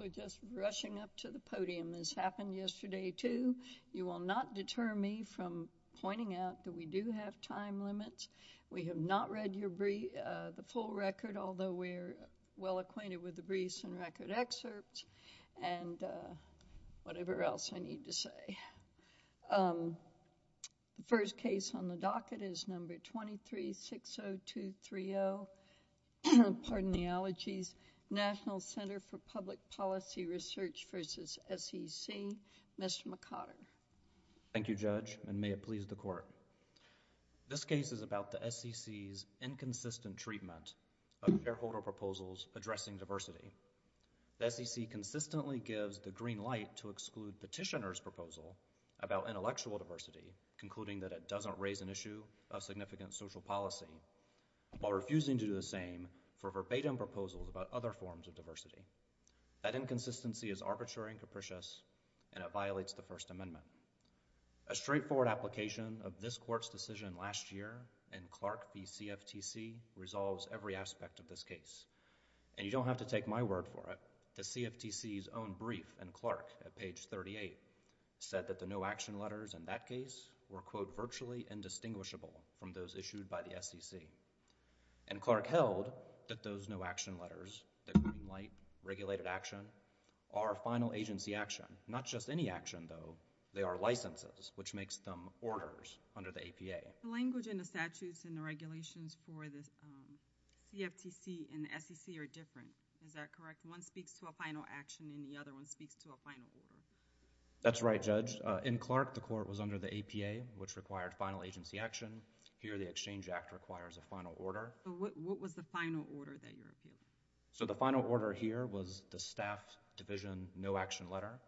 We're just rushing up to the podium. This happened yesterday, too. You will not deter me from pointing out that we do have time limits. We have not read the full record, although we're well acquainted with the briefs and record excerpts and whatever else I need to say. The first case on the docket is No. 2360230. Pardon the allergies. National Center for Public Policy Research v. SEC. Mr. McOtter. Thank you, Judge, and may it please the Court. This case is about the SEC's inconsistent treatment of shareholder proposals addressing diversity. The SEC consistently gives the green light to exclude petitioner's proposal about intellectual diversity, concluding that it doesn't raise an issue of significant social policy, while refusing to do the same for verbatim proposals about other forms of diversity. That inconsistency is arbitrary and capricious, and it violates the First Amendment. A straightforward application of this Court's decision last year in Clark v. CFTC resolves every aspect of this case, and you don't have to take my word for it. The CFTC's own brief in Clark at page 38 said that the no-action letters in that case were, quote, virtually indistinguishable from those issued by the SEC. And Clark held that those no-action letters, that green light, regulated action, are final agency action. Not just any action, though. They are licenses, which makes them orders under the APA. The language in the statutes and the regulations for the CFTC and the SEC are different. Is that correct? One speaks to a final action, and the other one speaks to a final order. That's right, Judge. In Clark, the Court was here, the Exchange Act requires a final order. What was the final order that you're appealing? So the final order here was the staff division no-action letter.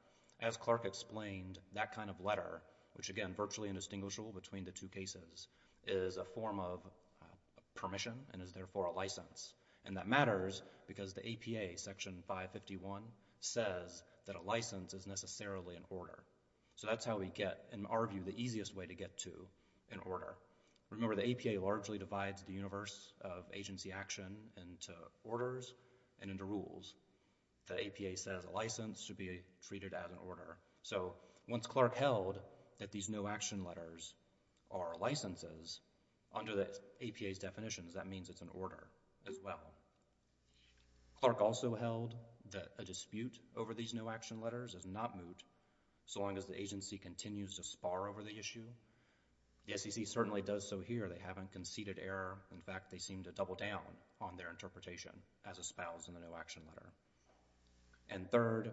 As Clark explained, that kind of letter, which again, virtually indistinguishable between the two cases, is a form of permission and is therefore a license. And that matters because the APA, section 551, says that a license is necessarily an order. So that's how we get, in our view, the easiest way to get to an order. Remember, the APA largely divides the universe of agency action into orders and into rules. The APA says a license should be treated as an order. So once Clark held that these no-action letters are licenses, under the APA's definitions, that means it's an order as well. Clark also held that a dispute over these no-action letters is not moot, so long as the agency continues to spar over the issue. The SEC certainly does so here. They haven't conceded error. In fact, they seem to double down on their interpretation as espoused in the no-action letter. And third,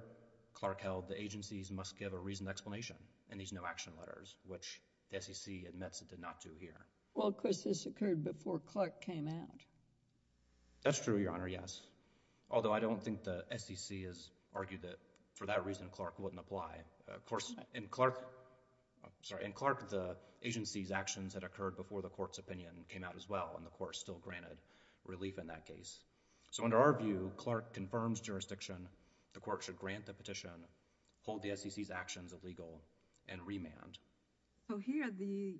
Clark held the agencies must give a reasoned explanation in these no-action letters, which the SEC admits it did not do here. Well, Chris, this occurred before Clark came out. That's true, Your Honor, yes. Although I don't think the SEC has argued that for that reason, Clark wouldn't apply. In Clark, the agency's actions had occurred before the court's opinion came out as well, and the court still granted relief in that case. So under our view, Clark confirms jurisdiction. The court should grant the petition, hold the SEC's actions illegal, and remand. So here, the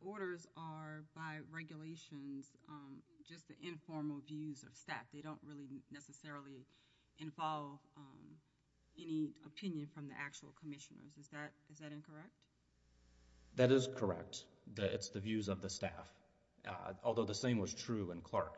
orders are, by regulations, just the informal views of staff. They don't really necessarily involve any opinion from the actual commissioners. Is that incorrect? That is correct. It's the views of the staff. Although the same was true in Clark,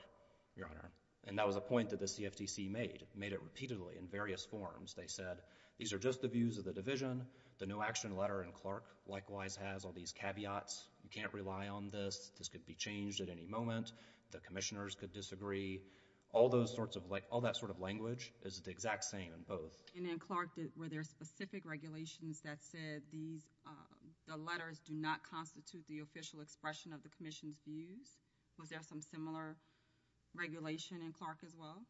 Your Honor. And that was a point that the CFTC made. Made it repeatedly in various forms. They said, these are just the views of the division. The no-action letter in Clark likewise has all these caveats. You can't rely on this. This could be changed at any moment. The commissioners could disagree. All those sorts of, like, all that sort of language is the exact same in both. And in Clark, were there specific regulations that said these, the letters do not constitute the official expression of the commission's views? Was there some similar regulation in Clark as well?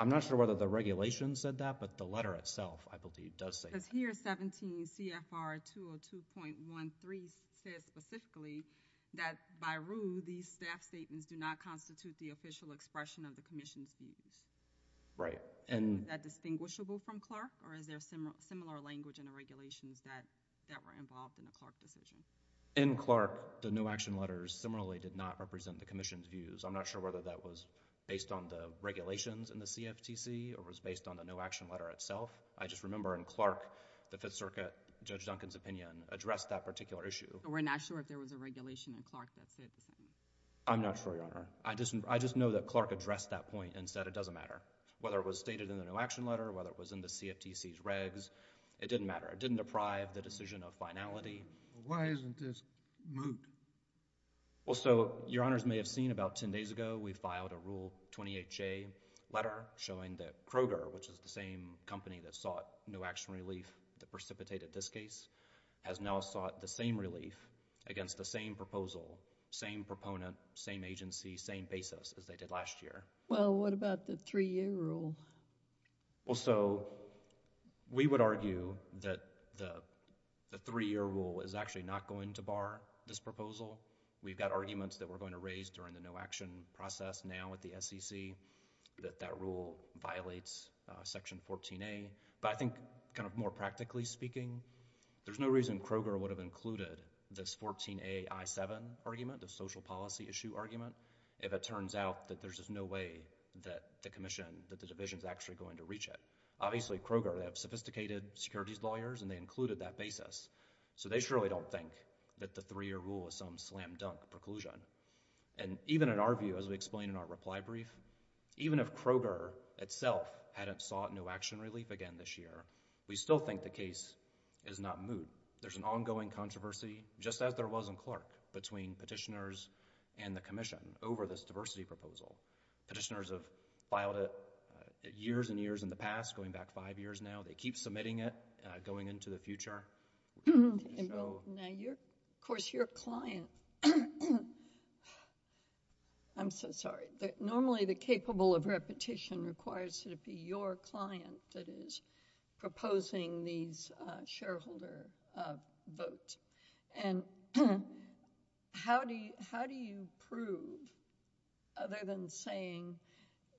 I'm not sure whether the regulation said that, but the letter itself, I believe, does say that. Because here, 17 CFR 202.13 says specifically that, by rule, these staff statements do not constitute the official expression of the commission's views. Right. Is that distinguishable from Clark, or is there similar language in the regulations that were involved in the Clark decision? In Clark, the no-action letters similarly did not represent the commission's views. I'm not sure whether that was based on the regulations in the CFTC or was based on the no-action letter itself. I just remember in Clark, the Fifth Circuit, Judge Duncan's opinion addressed that particular issue. So we're not sure if there was a regulation in Clark that said the same? I'm not sure, Your Honor. I just know that Clark addressed that point and said it doesn't matter whether it was stated in the no-action letter, whether it was in the CFTC's regs. It didn't matter. It didn't deprive the decision of finality. Why isn't this moved? Well, so, Your Honors may have seen about 10 days ago, we filed a Rule 28J letter showing that Kroger, which is the same company that sought no-action relief that precipitated this case, has now sought the same relief against the same proposal, same proponent, same agency, same basis as they did last year. Well, what about the three-year rule? Well, so, we would argue that the three-year rule is actually not going to bar this proposal. We've got arguments that we're going to raise during the no-action process now at the SEC that that rule violates Section 14A, but I think kind of more practically speaking, there's no reason Kroger would have included this 14A I-7 argument, the social policy issue argument, if it turns out that there's just no way that the Commission, that the Division is actually going to reach it. Obviously, Kroger, they have sophisticated securities lawyers and they included that basis, so they surely don't think that the three-year rule is some slam-dunk preclusion. Even in our view, as we explained in our reply brief, even if Kroger itself hadn't sought no-action relief again this year, we still think the case is not moot. There's an ongoing controversy, just as there was in Clark, between petitioners and the Commission over this diversity proposal. Petitioners have filed it years and years in the past, going back five years now. They keep submitting it, going into the future. Now, of course, your client—I'm so sorry. Normally, the capable of repetition requires that it be your client that is proposing these shareholder votes. And how do you prove, other than saying,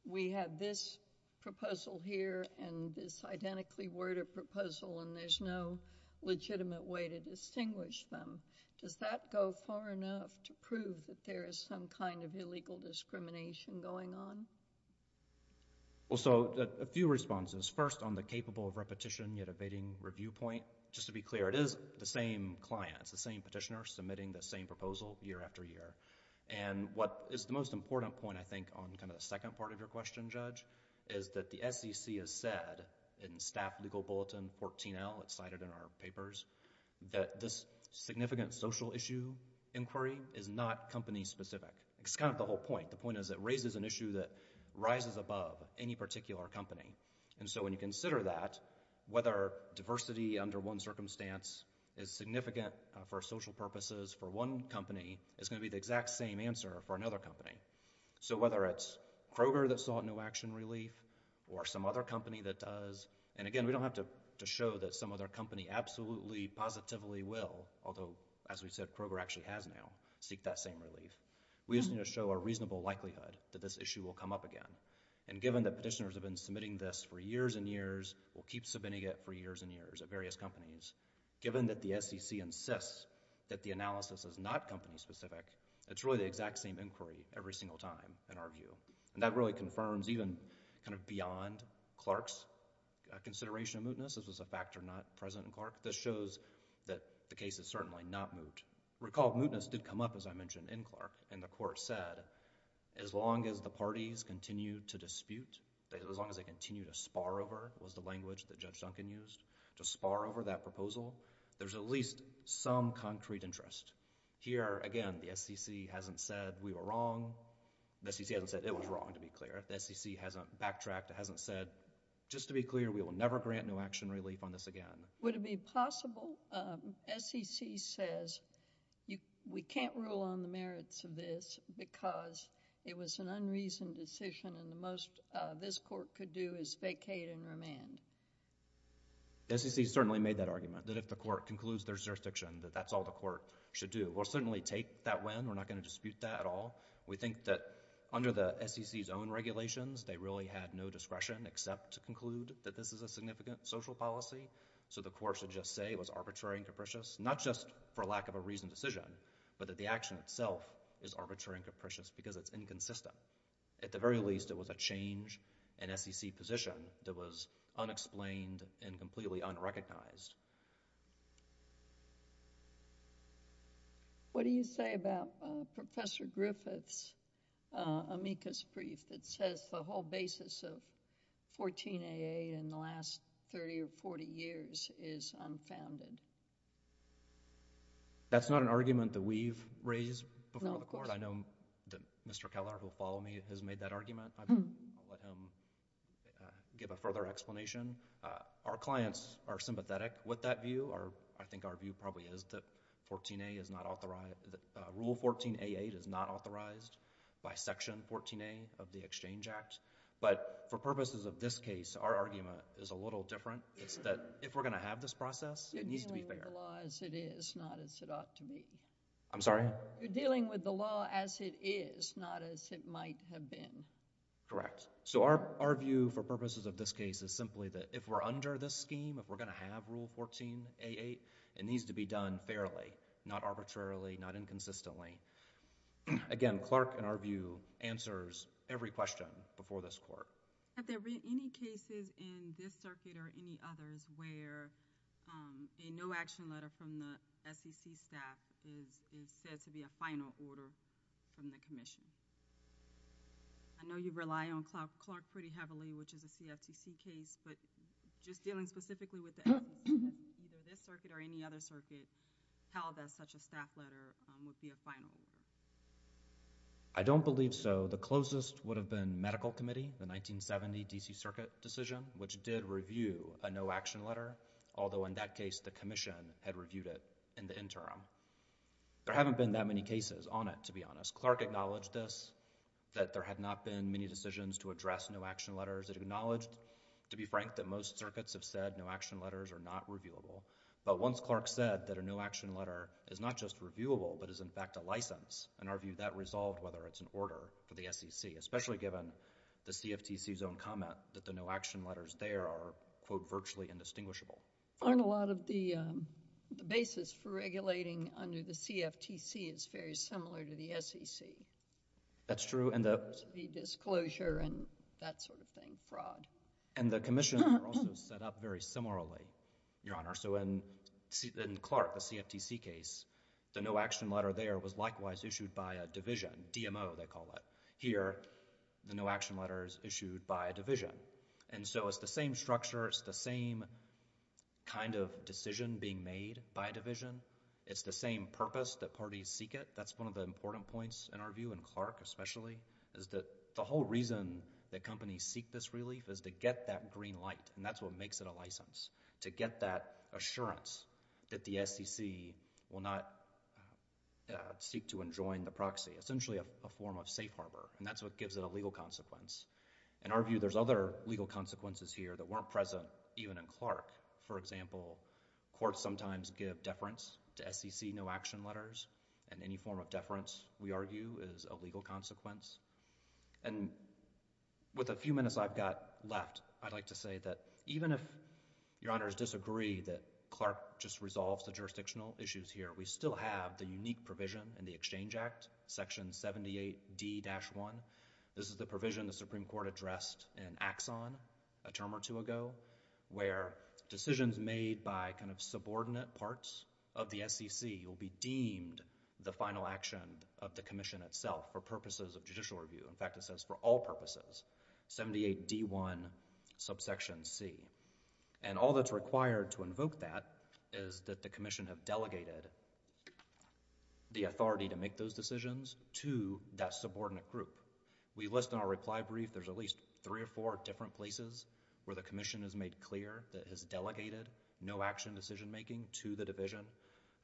we have this proposal here and this identically worded proposal and there's no legitimate way to distinguish them, does that go far enough to prove that there is some kind of illegal discrimination going on? Well, so, a few responses. First, on the capable of repetition, yet evading review point, just to be clear, it is the same client, it's the same petitioner submitting the same proposal year after year. And what is the most important point, I think, on kind of the second part of your question, Judge, is that the SEC has said, in staff legal bulletin 14L, it's cited in our papers, that this significant social issue inquiry is not company specific. It's kind of the whole point. The point is, it raises an issue that rises above any particular company. And so, when you consider that, whether diversity under one circumstance is significant for social purposes for one company is going to be the exact same answer for another company. So, whether it's Kroger that saw a new action relief or some other company that does, and again, we don't have to show that some other company absolutely, positively will, although, as we said, Kroger actually has now, seek that same relief. We just need to show a reasonable likelihood that this issue will come up again. And given that petitioners have been submitting this for years and years, will keep submitting it for years and years at various companies, given that the SEC insists that the analysis is not company specific, it's really the exact same inquiry every single time, in our view. And that really confirms even kind of beyond Clark's consideration of mootness. This was a factor not present in Clark. This shows that the case is certainly not moot. Recall, mootness did come up, as I mentioned, in Clark. And the court said, as long as the parties continue to dispute, as long as they continue to spar over, was the language that Judge Duncan used, to spar over that proposal, there's at least some concrete interest. Here, again, the SEC hasn't said we were wrong. The SEC hasn't said it was wrong, to be clear. The SEC hasn't backtracked. It hasn't said, just to be clear, we will never grant new action relief on this again. Would it be possible, SEC says, we can't rule on the merits of this because it was an unreasoned decision and the most this court could do is vacate and remand. The SEC certainly made that argument, that if the court concludes there's jurisdiction, that that's all the court should do. We'll certainly take that win. We're not going to dispute that at all. We think that under the SEC's own regulations, they really had no discretion except to conclude that this is a significant social policy. So the court should just say it was arbitrary and capricious, not just for lack of a reasoned decision, but that the action itself is arbitrary and capricious because it's inconsistent. At the very least, it was a change in SEC position that was unexplained and completely unrecognized. What do you say about Professor Griffith's amicus brief that says the whole basis of 14AA in the last 30 or 40 years is unfounded? That's not an argument that we've raised before the court. Mr. Keller, who will follow me, has made that argument. I won't let him give a further explanation. Our clients are sympathetic with that view. I think our view probably is that Rule 14AA is not authorized by Section 14A of the Exchange Act. But for purposes of this case, our argument is a little different. It's that if we're going to have this process, it needs to be fair. You're dealing with the law as it is, not as it ought to be. I'm sorry? You're dealing with the law as it is, not as it might have been. Correct. So our view for purposes of this case is simply that if we're under this scheme, if we're going to have Rule 14AA, it needs to be done fairly, not arbitrarily, not inconsistently. Again, Clark, in our view, answers every question before this court. Have there been any cases in this circuit or any others where a no-action letter from the Commission was considered to be a final order from the Commission? I know you rely on Clark pretty heavily, which is a CFTC case, but just dealing specifically with this circuit or any other circuit, how does such a staff letter would be a final order? I don't believe so. The closest would have been Medical Committee, the 1970 D.C. Circuit decision, which did review a no-action letter, although in that case, the Commission had reviewed it in the interim. There haven't been that many cases on it, to be honest. Clark acknowledged this, that there had not been many decisions to address no-action letters. It acknowledged, to be frank, that most circuits have said no-action letters are not reviewable, but once Clark said that a no-action letter is not just reviewable, but is, in fact, a license, in our view, that resolved whether it's an order for the SEC, especially given the CFTC's own comment that the no-action letters there are, quote, virtually indistinguishable. On a lot of the basis for regulating under the CFTC, it's very similar to the SEC. That's true, and the... The disclosure and that sort of thing, fraud. And the Commission also set up very similarly, Your Honor. So in Clark, the CFTC case, the no-action letter there was likewise issued by a division, DMO, they call it. Here, the no-action letter is issued by a division, and so it's the same kind of decision being made by a division. It's the same purpose that parties seek it. That's one of the important points, in our view, in Clark especially, is that the whole reason that companies seek this relief is to get that green light, and that's what makes it a license, to get that assurance that the SEC will not seek to enjoin the proxy, essentially a form of safe harbor, and that's what gives it a legal consequence. In our view, there's other legal consequences here that weren't present even in Clark. For example, courts sometimes give deference to SEC no-action letters, and any form of deference, we argue, is a legal consequence. And with a few minutes I've got left, I'd like to say that even if Your Honors disagree that Clark just resolves the jurisdictional issues here, we still have the unique provision in the Exchange Act, Section 78D-1. This is the provision the Supreme Court addressed in Axon a term or two ago, where decisions made by kind of subordinate parts of the SEC will be deemed the final action of the Commission itself for purposes of judicial review. In fact, it says for all purposes, 78D-1, subsection C. And all that's required to invoke that is that the Commission have delegated the authority to make those decisions to that subordinate group. We list in our reply brief, there's at least three or four different places where the Commission has made clear that it has delegated no-action decision making to the Division.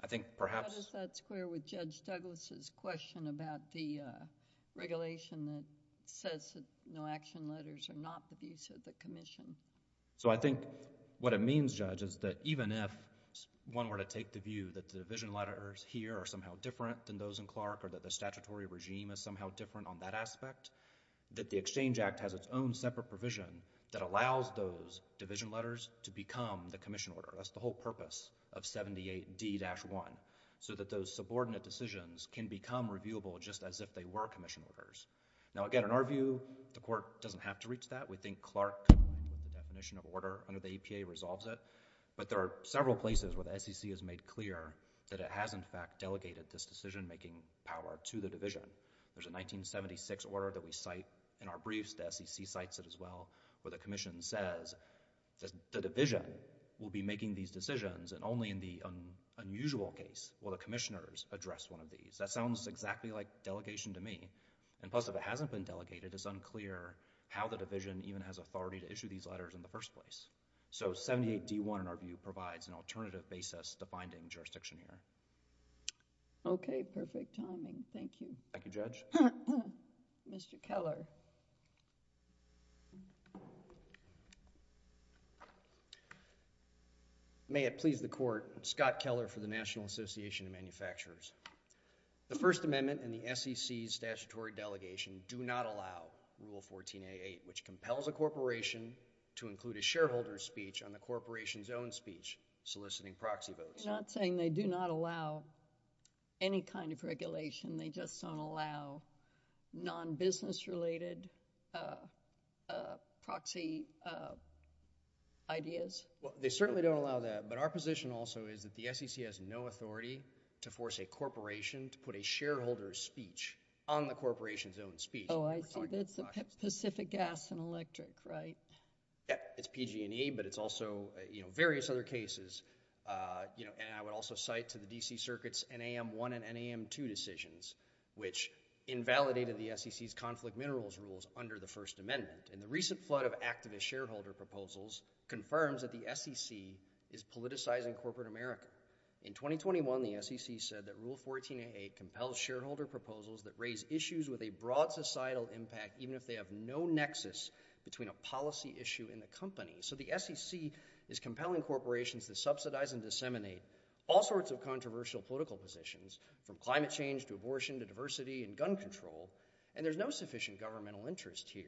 I think perhaps... How does that square with Judge Douglas' question about the regulation that says that no-action letters are not the views of the Commission? So I think what it means, Judge, is that even if one were to take the view that the Division letters here are somehow different than those in Clark, or that the statutory regime is somehow different on that aspect, that the Exchange Act has its own separate provision that allows those Division letters to become the Commission order. That's the whole purpose of 78D-1, so that those subordinate decisions can become reviewable just as if they were Commission orders. Now, again, in our view, the Court doesn't have to reach that. We think Clark, with the definition of order under the EPA, resolves it. But there are several places where the SEC has made clear that it has, in fact, delegated this decision making power to the Division. There's a 1976 order that we cite in our briefs. The SEC cites it as well, where the Commission says that the Division will be making these decisions, and only in the unusual case will the Commissioners address one of these. That sounds exactly like delegation to me. And plus, if it hasn't been delegated, it's unclear how the Division even has authority to issue these letters in the first place. So, 78D-1, in our view, provides an alternative basis to finding jurisdiction here. Okay. Perfect timing. Thank you. Thank you, Judge. Mr. Keller. May it please the Court. Scott Keller for the National Association of Manufacturers. The First Amendment and the SEC's statutory delegation do not allow Rule 14A-8, which compels a corporation to include a shareholder's speech on the corporation's own speech soliciting proxy votes. You're not saying they do not allow any kind of regulation? They just don't allow non-business related proxy ideas? They certainly don't allow that. But our position also is that the SEC has no authority to force a corporation to put a shareholder's speech on the corporation's own speech. Oh, I see. But it's Pacific Gas and Electric, right? Yeah. It's PG&E, but it's also, you know, various other cases. You know, and I would also cite to the DC Circuit's NAM-1 and NAM-2 decisions, which invalidated the SEC's conflict minerals rules under the First Amendment. And the recent flood of activist shareholder proposals confirms that the SEC is politicizing corporate America. In 2021, the SEC said that Rule 14A-8 compels shareholder proposals that raise issues with a broad societal impact, even if they have no nexus between a policy issue and the company. So the SEC is compelling corporations to subsidize and disseminate all sorts of controversial political positions, from climate change to abortion to diversity and gun control. And there's no sufficient governmental interest here.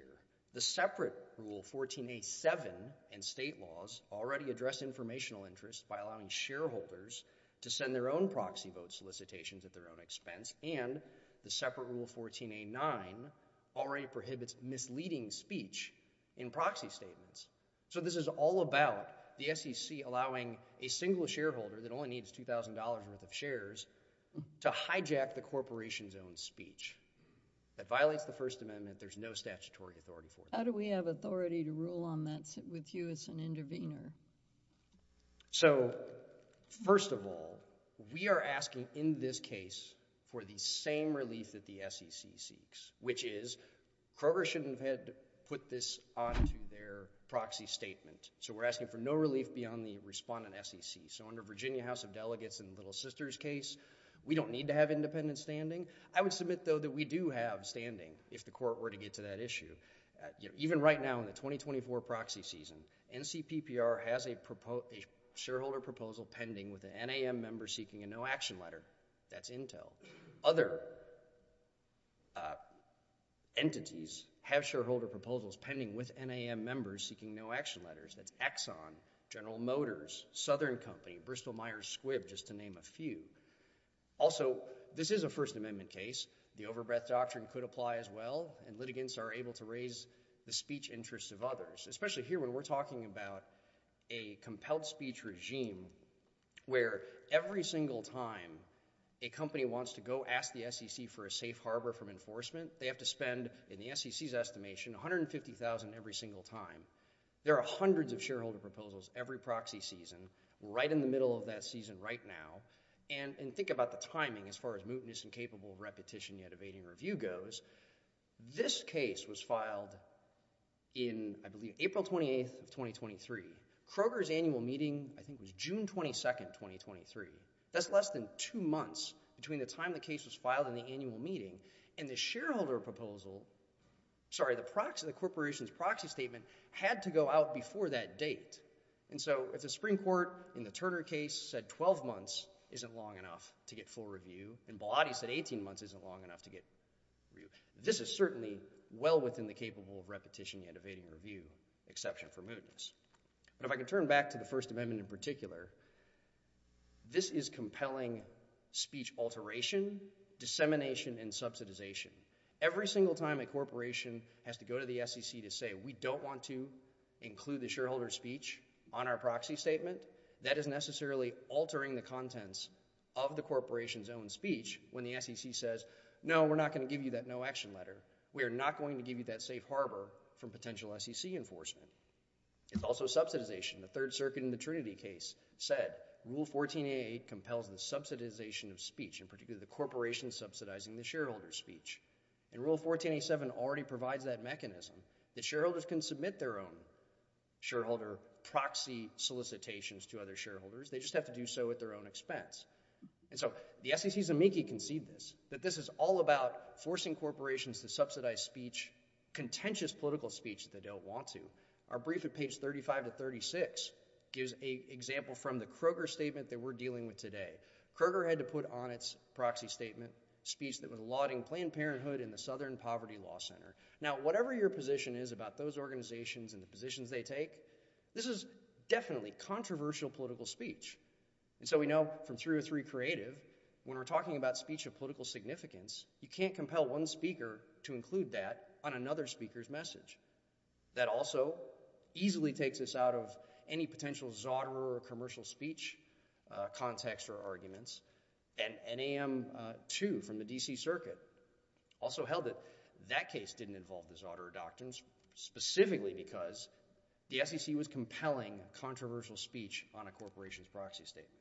The separate Rule 14A-7 and state laws already address informational interest by allowing shareholders to send their own proxy vote solicitations at their own expense. And the separate Rule 14A-9 already prohibits misleading speech in proxy statements. So this is all about the SEC allowing a single shareholder that only needs $2,000 worth of shares to hijack the corporation's own speech. That violates the First Amendment. There's no statutory authority for that. How do we have authority to rule on that with you as an intervener? So first of all, we are asking in this case for the same relief that the SEC seeks, which is, Kroger shouldn't have had to put this onto their proxy statement. So we're asking for no relief beyond the respondent SEC. So under Virginia House of Delegates in Little Sister's case, we don't need to have independent standing. I would submit, though, that we do have standing, if the court were to get to that issue. Even right now in the 2024 proxy season, NCPPR has a shareholder proposal pending with an NAM member seeking a no-action letter. That's Intel. Other entities have shareholder proposals pending with NAM members seeking no-action letters. That's Exxon, General Motors, Southern Company, Bristol-Myers Squibb, just to name a few. Also, this is a First Amendment case. The overbreath doctrine could apply as well, and litigants are able to raise the speech interests of others. Especially here when we're talking about a compelled speech regime where every single time a company wants to go ask the SEC for a safe harbor from enforcement, they have to spend, in the SEC's estimation, $150,000 every single time. There are hundreds of shareholder proposals every proxy season, right in the middle of that season right now. And think about the timing as far as mootness and capable repetition yet evading review goes. This case was filed in, I believe, April 28th of 2023. Kroger's annual meeting, I think, was June 22nd, 2023. That's less than two months between the time the case was filed and the annual meeting. And the shareholder proposal, sorry, the corporation's proxy statement had to go out before that date. And so if the Supreme Court, in the Turner case, said 12 months isn't long enough to get full review, and Baladi said 18 months isn't long enough to get review, this is certainly well within the capable of repetition yet evading review exception for mootness. But if I could turn back to the First Amendment in particular, this is compelling speech alteration, dissemination, and subsidization. Every single time a corporation has to go to the SEC to say, we don't want to on our proxy statement, that is necessarily altering the contents of the corporation's own speech when the SEC says, no, we're not going to give you that no action letter. We are not going to give you that safe harbor from potential SEC enforcement. It's also subsidization. The Third Circuit in the Trinity case said, Rule 1488 compels the subsidization of speech, in particular, the corporation subsidizing the shareholder's speech. And Rule 1487 already provides that mechanism that shareholders can submit their own shareholder proxy solicitations to other shareholders. They just have to do so at their own expense. And so the SEC's amici can see this, that this is all about forcing corporations to subsidize speech, contentious political speech that they don't want to. Our brief at page 35 to 36 gives an example from the Kroger statement that we're dealing with today. Kroger had to put on its proxy statement speech that was allotting Planned Parenthood and the Southern Poverty Law Center. Now, whatever your position is about those organizations and the positions they take, this is definitely controversial political speech. And so we know from 303 Creative, when we're talking about speech of political significance, you can't compel one speaker to include that on another speaker's message. That also easily takes us out of any potential zauderer or commercial speech context or arguments. And NAM-2 from the D.C. Circuit also held that that case didn't involve the zauderer doctrines specifically because the SEC was compelling controversial speech on a corporation's proxy statement.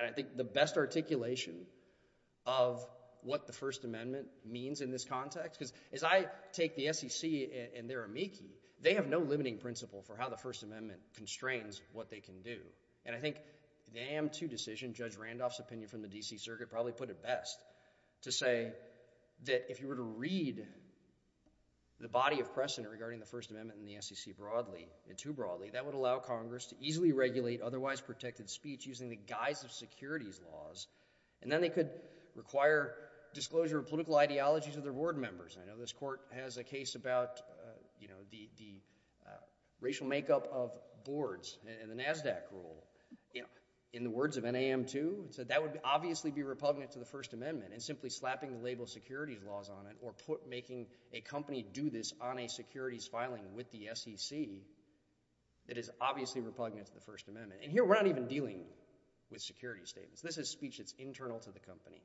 And I think the best articulation of what the First Amendment means in this context, because as I take the SEC and their amici, they have no limiting principle for how the First Amendment constrains what they can do. And I think the NAM-2 decision, Judge Randolph's opinion from the D.C. Circuit probably put it best to say that if you were to read the body of precedent regarding the First Amendment and the SEC broadly and too broadly, that would allow Congress to easily regulate otherwise protected speech using the guise of securities laws. And then they could require disclosure of political ideology to their board members. I know this court has a case about, you know, the racial makeup of boards and the NASDAQ rule. In the words of NAM-2, it said that would obviously be repugnant to the First Amendment. And simply slapping the label securities laws on it or making a company do this on a securities filing with the SEC, it is obviously repugnant to the First Amendment. And here we're not even dealing with security statements. This is speech that's internal to the company.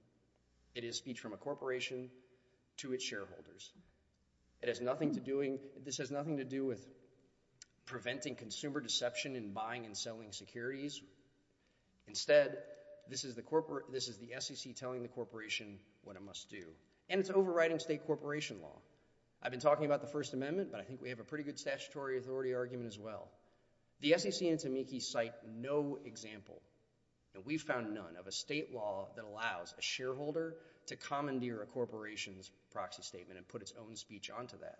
It is speech from a corporation to its shareholders. It has nothing to doing, this has nothing to do with preventing consumer deception in buying and selling securities. Instead, this is the SEC telling the corporation what it must do. And it's overriding state corporation law. I've been talking about the First Amendment, but I think we have a pretty good statutory authority argument as well. The SEC and Tamieki cite no example, and we've found none, of a state law that allows a shareholder to commandeer a corporation's proxy statement and put its own speech onto that.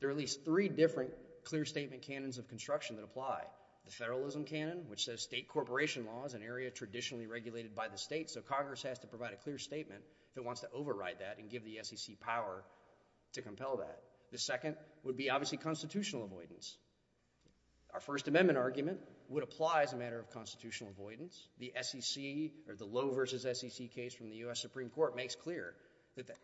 There are at least three different clear statement canons of construction that apply. The federalism canon, which says state corporation law is an area traditionally regulated by the state, so Congress has to provide a clear statement that wants to override that and give the SEC power to compel that. The second would be, obviously, constitutional avoidance. Our First Amendment argument would apply as a matter of constitutional avoidance. The SEC, or the Lowe versus SEC case from the U.S. Supreme Court makes clear that the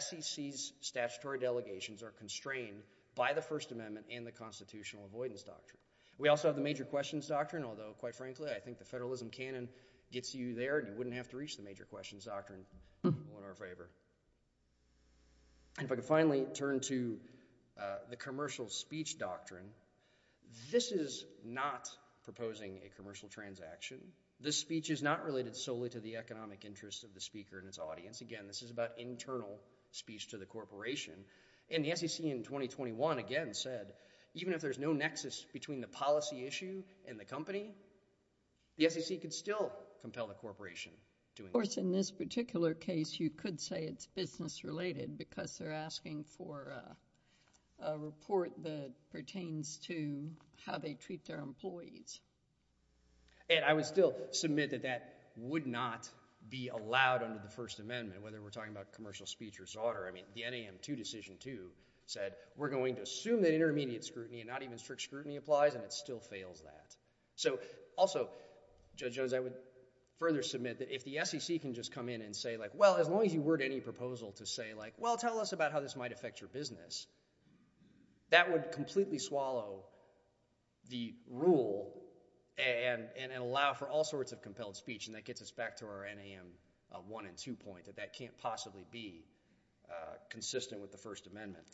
SEC's statutory delegations are constrained by the First Amendment and the constitutional avoidance doctrine. We also have the major questions doctrine, although, quite frankly, I think the federalism canon gets you there. You wouldn't have to reach the major questions doctrine. All in our favor. And if I could finally turn to the commercial speech doctrine. This is not proposing a commercial transaction. This speech is not related solely to the economic interests of the speaker and its audience. Again, this is about internal speech to the corporation. And the SEC in 2021, again, said even if there's no nexus between the policy issue and the company, the SEC could still compel the corporation. Of course, in this particular case, you could say it's business related because they're asking for a report that pertains to how they treat their employees. And I would still submit that that would not be allowed under the First Amendment, whether we're talking about commercial speech or SAUDER. I mean, the NAM 2 Decision 2 said we're going to assume that intermediate scrutiny and not even strict scrutiny applies, and it still fails that. So also, Judge Jones, I would further submit that if the SEC can just come in and say like, well, as long as you word any proposal to say like, well, tell us about how this might affect your business, that would completely swallow the rule and allow for all sorts of compelled speech. And that gets us back to our NAM 1 and 2 point that that can't possibly be consistent with the First Amendment.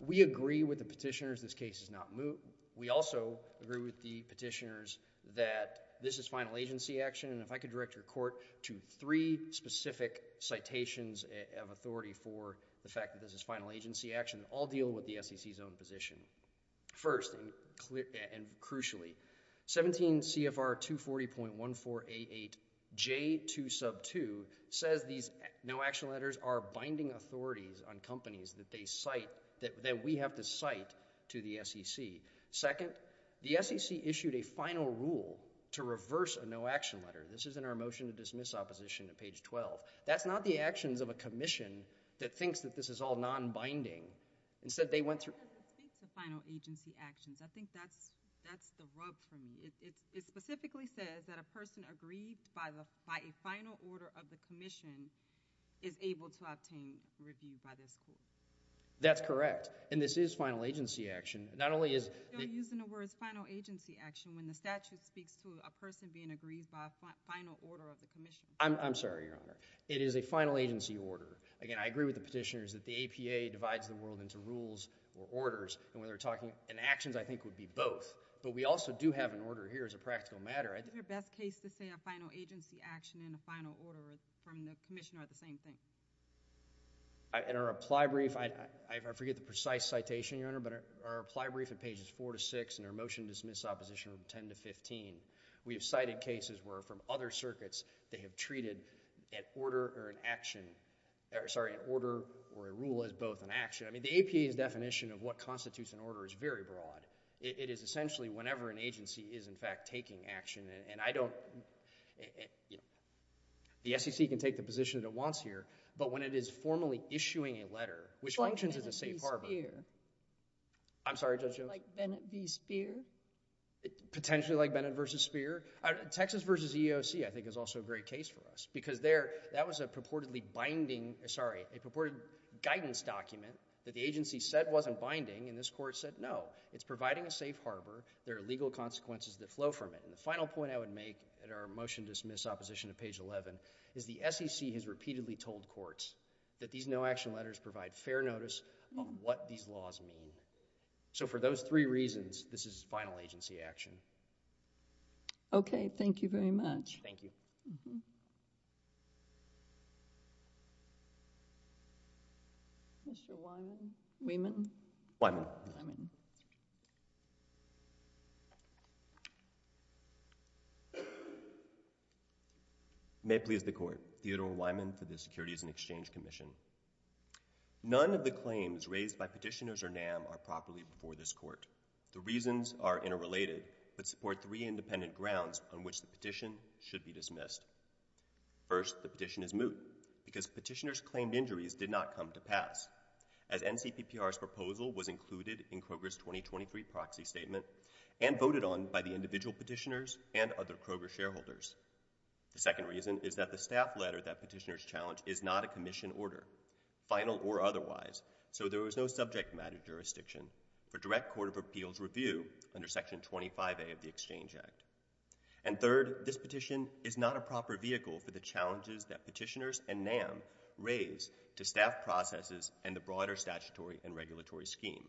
We agree with the petitioners this case is not moot. We also agree with the petitioners that this is final agency action. And if I could direct your court to three specific citations of authority for the fact that this is final agency action, all deal with the SEC's own position. First, and crucially, 17 CFR 240.1488J-2 sub 2 says these no action letters are binding authorities on companies that they cite, that we have to cite to the SEC. Second, the SEC issued a final rule to reverse a no action letter. This is in our motion to dismiss opposition at page 12. That's not the actions of a commission that thinks that this is all non-binding. Instead, they went through. It speaks to final agency actions. I think that's the rub for me. It specifically says that a person agreed by a final order of the commission is able to obtain review by this court. That's correct. And this is final agency action. Not only is. You're still using the words final agency action when the statute speaks to a person being agreed by a final order of the commission. I'm sorry, Your Honor. It is a final agency order. Again, I agree with the petitioners that the APA divides the world into rules or orders. And when they're talking in actions, I think would be both. But we also do have an order here as a practical matter. I think the best case to say a final agency action in the final order from the commission are the same thing. In our reply brief, I forget the precise citation, Your Honor, but our reply brief at pages four to six in our motion to dismiss opposition from 10 to 15, we have cited cases where from other circuits they have treated an order or an action. Sorry, an order or a rule as both an action. The APA's definition of what constitutes an order is very broad. It is essentially whenever an agency is in fact taking action. And I don't. The SEC can take the position that it wants here. But when it is formally issuing a letter, which functions as a safe harbor. Like Bennett v. Speer. I'm sorry, Judge Jones. Like Bennett v. Speer. Potentially like Bennett v. Speer. Texas v. EEOC, I think, is also a great case for us. Because there, that was a purportedly binding, sorry, a purported guidance document that the agency said wasn't binding. And this court said, no. It's providing a safe harbor. There are legal consequences that flow from it. And the final point I would make at our motion to dismiss opposition to page 11 is the SEC has repeatedly told courts that these no action letters provide fair notice on what these laws mean. So for those three reasons, this is final agency action. Thank you. Okay. Thank you very much. Mr. Wyman. Wyman. Wyman. May it please the court. Theodore Wyman for the Securities and Exchange Commission. None of the claims raised by petitioners or NAM are properly before this court. The reasons are interrelated but support three independent grounds on which the petition should be dismissed. First, the petition is moot. Because petitioners claimed injuries did not come to pass. As NCPPR's proposal was included in Kroger's 2023 proxy statement and voted on by the individual petitioners and other Kroger shareholders. The second reason is that the staff letter that petitioners challenged is not a commission order, final or otherwise. So there was no subject matter jurisdiction. For direct Court of Appeals review under Section 25A of the Exchange Act. And third, this petition is not a proper vehicle for the challenges that petitioners and NAM raise to staff processes and the broader statutory and regulatory scheme.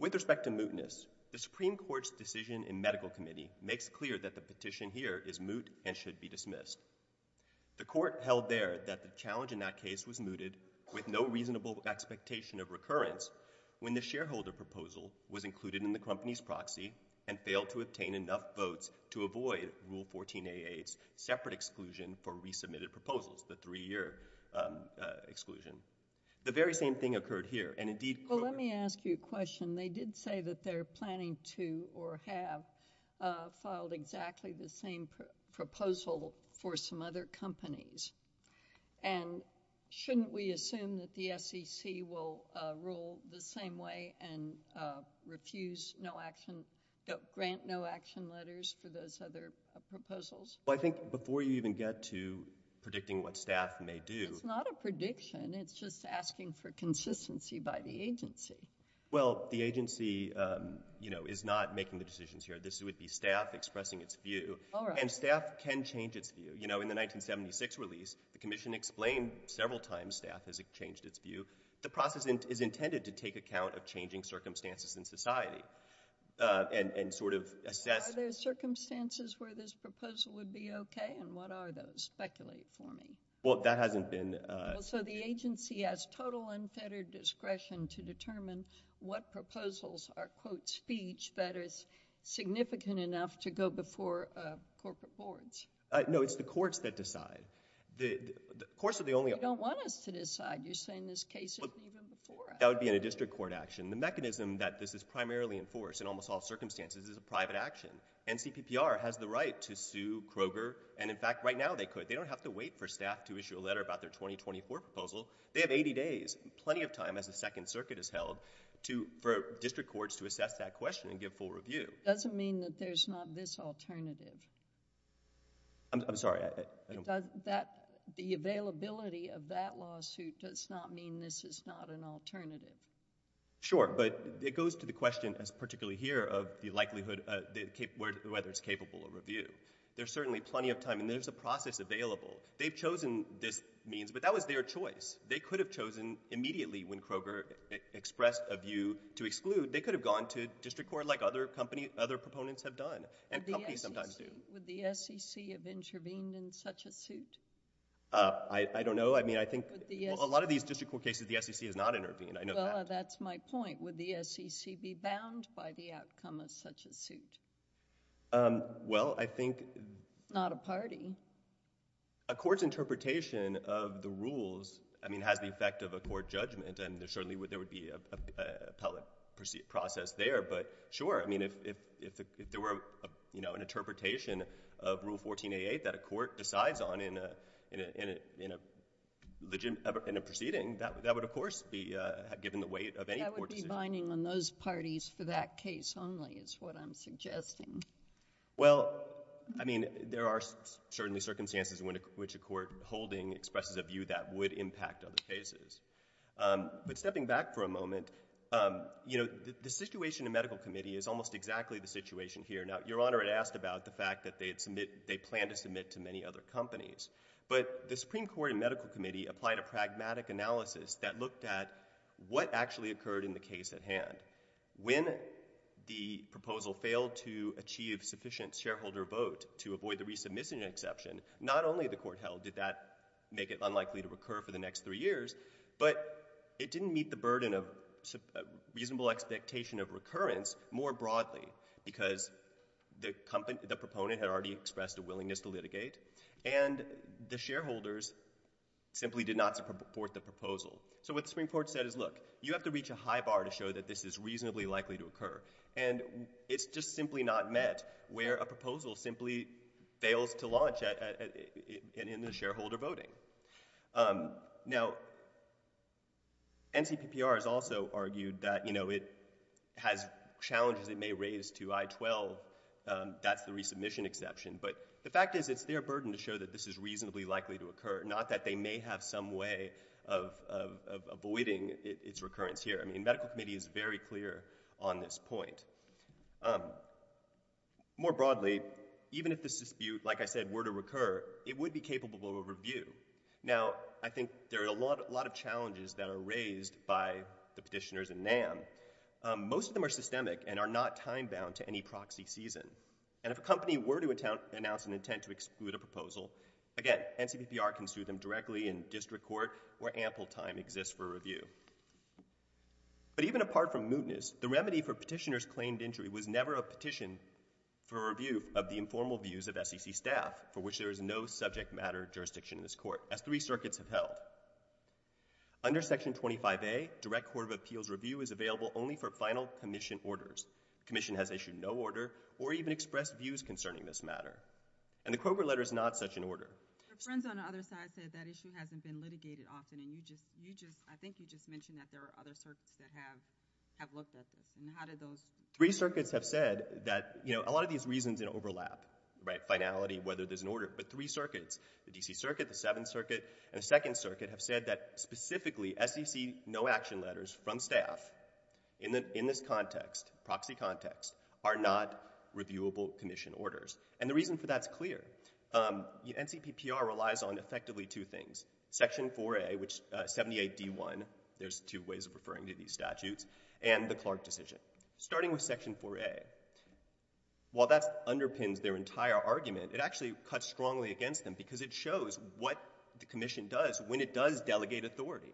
With respect to mootness, the Supreme Court's decision in medical committee makes clear that the petition here is moot and should be dismissed. The court held there that the challenge in that case was mooted with no reasonable expectation of recurrence. When the shareholder proposal was included in the company's proxy and failed to obtain enough votes to avoid Rule 14a8's separate exclusion for resubmitted proposals, the three-year exclusion. The very same thing occurred here. And indeed, Kroger- Well, let me ask you a question. They did say that they're planning to or have filed exactly the same proposal for some other companies. And shouldn't we assume that the SEC will rule the same way and refuse no action, grant no action letters for those other proposals? Well, I think before you even get to predicting what staff may do- It's not a prediction. It's just asking for consistency by the agency. Well, the agency, you know, is not making the decisions here. This would be staff expressing its view. All right. And staff can change its view. In the 1976 release, the commission explained several times staff has changed its view. The process is intended to take account of changing circumstances in society and sort of assess- Are there circumstances where this proposal would be okay? And what are those? Speculate for me. Well, that hasn't been- So the agency has total unfettered discretion to determine what proposals are, quote, speech that is significant enough to go before corporate boards. No, it's the courts that decide. Courts are the only- You don't want us to decide. You're saying this case isn't even before us. That would be in a district court action. The mechanism that this is primarily enforced in almost all circumstances is a private action. NCPPR has the right to sue Kroger. And in fact, right now they could. They don't have to wait for staff to issue a letter about their 2024 proposal. They have 80 days, plenty of time as the Second Circuit has held to- for district courts to assess that question and give full review. Doesn't mean that there's not this alternative. I'm sorry. The availability of that lawsuit does not mean this is not an alternative. Sure, but it goes to the question as particularly here of the likelihood whether it's capable of review. There's certainly plenty of time and there's a process available. They've chosen this means, but that was their choice. They could have chosen immediately when Kroger expressed a view to exclude. They could have gone to district court like other companies, other proponents have done and companies sometimes do. Would the SEC have intervened in such a suit? I don't know. I mean, I think a lot of these district court cases, the SEC has not intervened. I know that. That's my point. Would the SEC be bound by the outcome of such a suit? Well, I think... Not a party. A court's interpretation of the rules, I mean, has the effect of a court judgment and there certainly would be an appellate process there. Sure, I mean, if there were an interpretation of Rule 1488 that a court decides on in a proceeding, that would of course be given the weight of any court decision. That would be binding on those parties for that case only is what I'm suggesting. Well, I mean, there are certainly circumstances in which a court holding expresses a view that would impact other cases. But stepping back for a moment, you know, the situation in medical committee is almost exactly the situation here. Now, Your Honor had asked about the fact that they plan to submit to many other companies, but the Supreme Court and medical committee applied a pragmatic analysis that looked at what actually occurred in the case at hand. When the proposal failed to achieve sufficient shareholder vote to avoid the resubmission exception, not only the court held did that make it unlikely to recur for the next three years, but it didn't meet the burden of reasonable expectation of recurrence more broadly because the proponent had already expressed a willingness to litigate and the shareholders simply did not support the proposal. So what the Supreme Court said is, look, you have to reach a high bar to show that this is reasonably likely to occur. And it's just simply not met where a proposal simply fails to launch in the shareholder voting. Now, NCPPR has also argued that, you know, it has challenges it may raise to I-12, that's the resubmission exception. But the fact is it's their burden to show that this is reasonably likely to occur, not that they may have some way of avoiding its recurrence here. I mean, medical committee is very clear on this point. More broadly, even if this dispute, like I said, were to recur, it would be capable of Now, I think there are a lot of challenges that are raised by the petitioners and NAM. Most of them are systemic and are not time-bound to any proxy season. And if a company were to announce an intent to exclude a proposal, again, NCPPR can sue them directly in district court where ample time exists for review. But even apart from mootness, the remedy for petitioners' claimed injury was never a petition for review of the informal views of SEC staff for which there is no subject matter jurisdiction in this court, as three circuits have held. Under Section 25A, direct court of appeals review is available only for final commission orders. The commission has issued no order or even expressed views concerning this matter. And the Kroger letter is not such an order. Your friends on the other side said that issue hasn't been litigated often. And you just, you just, I think you just mentioned that there are other circuits that have, have looked at this. And how did those? Three circuits have said that, you know, a lot of these reasons overlap, right, finality, whether there's an order. But three circuits, the D.C. Circuit, the Seventh Circuit, and the Second Circuit have said that specifically SEC no action letters from staff in the, in this context, proxy context, are not reviewable commission orders. And the reason for that's clear. NCPPR relies on effectively two things, Section 4A, which 78D1, there's two ways of referring to these statutes, and the Clark decision. Starting with Section 4A, while that underpins their entire argument, it actually cuts strongly against them, because it shows what the commission does when it does delegate authority.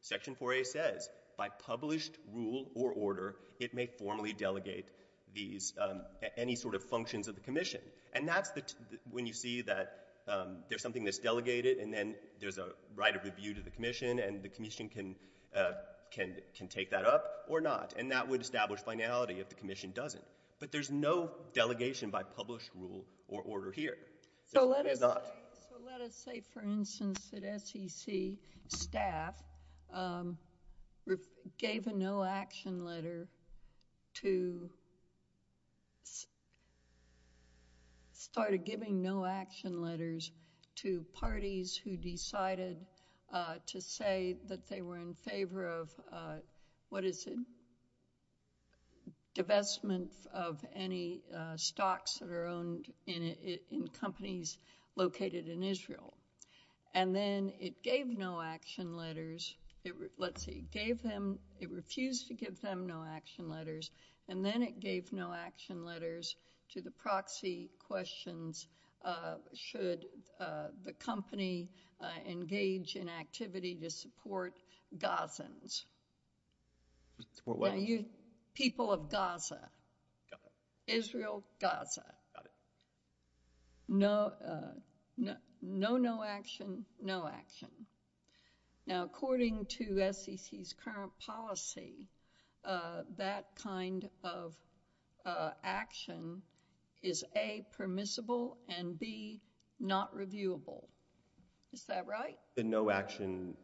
Section 4A says, by published rule or order, it may formally delegate these, any sort of functions of the commission. And that's the, when you see that there's something that's delegated, and then there's a right of review to the commission, and the commission can, can, can take that up or not. And that would establish finality if the commission doesn't. But there's no delegation by published rule or order here. So let us say, for instance, that SEC staff gave a no action letter to, started giving no action letters to parties who decided to say that they were in favor of, what is it, divestment of any stocks that are owned in, in companies located in Israel. And then it gave no action letters. It, let's see, gave them, it refused to give them no action letters, and then it gave no action letters to the proxy questions, should the company engage in activity to support what? Now, you, people of Gaza. Got it. Israel, Gaza. Got it. No, no, no, no action, no action. Now, according to SEC's current policy, that kind of action is A, permissible, and B, not reviewable. Is that right? The no action,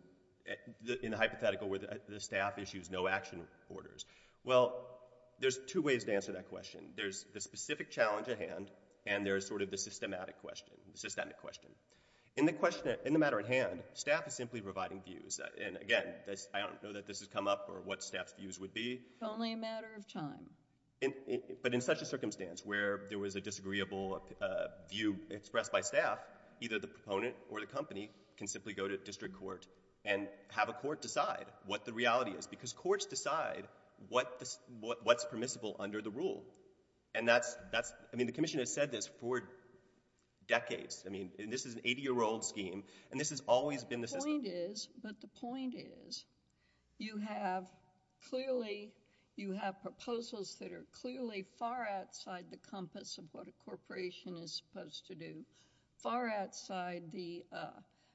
in the hypothetical where the staff issues no action orders. Well, there's two ways to answer that question. There's the specific challenge at hand, and there's sort of the systematic question, the systemic question. In the question, in the matter at hand, staff is simply providing views. And again, I don't know that this has come up or what staff's views would be. Only a matter of time. But in such a circumstance where there was a disagreeable view expressed by staff, either the proponent or the company can simply go to district court and have a court decide what the reality is. Because courts decide what's permissible under the rule. And that's, I mean, the commission has said this for decades. I mean, this is an 80-year-old scheme, and this has always been the system. The point is, but the point is, you have, clearly, you have proposals that are clearly far outside the compass of what a corporation is supposed to do. Far outside the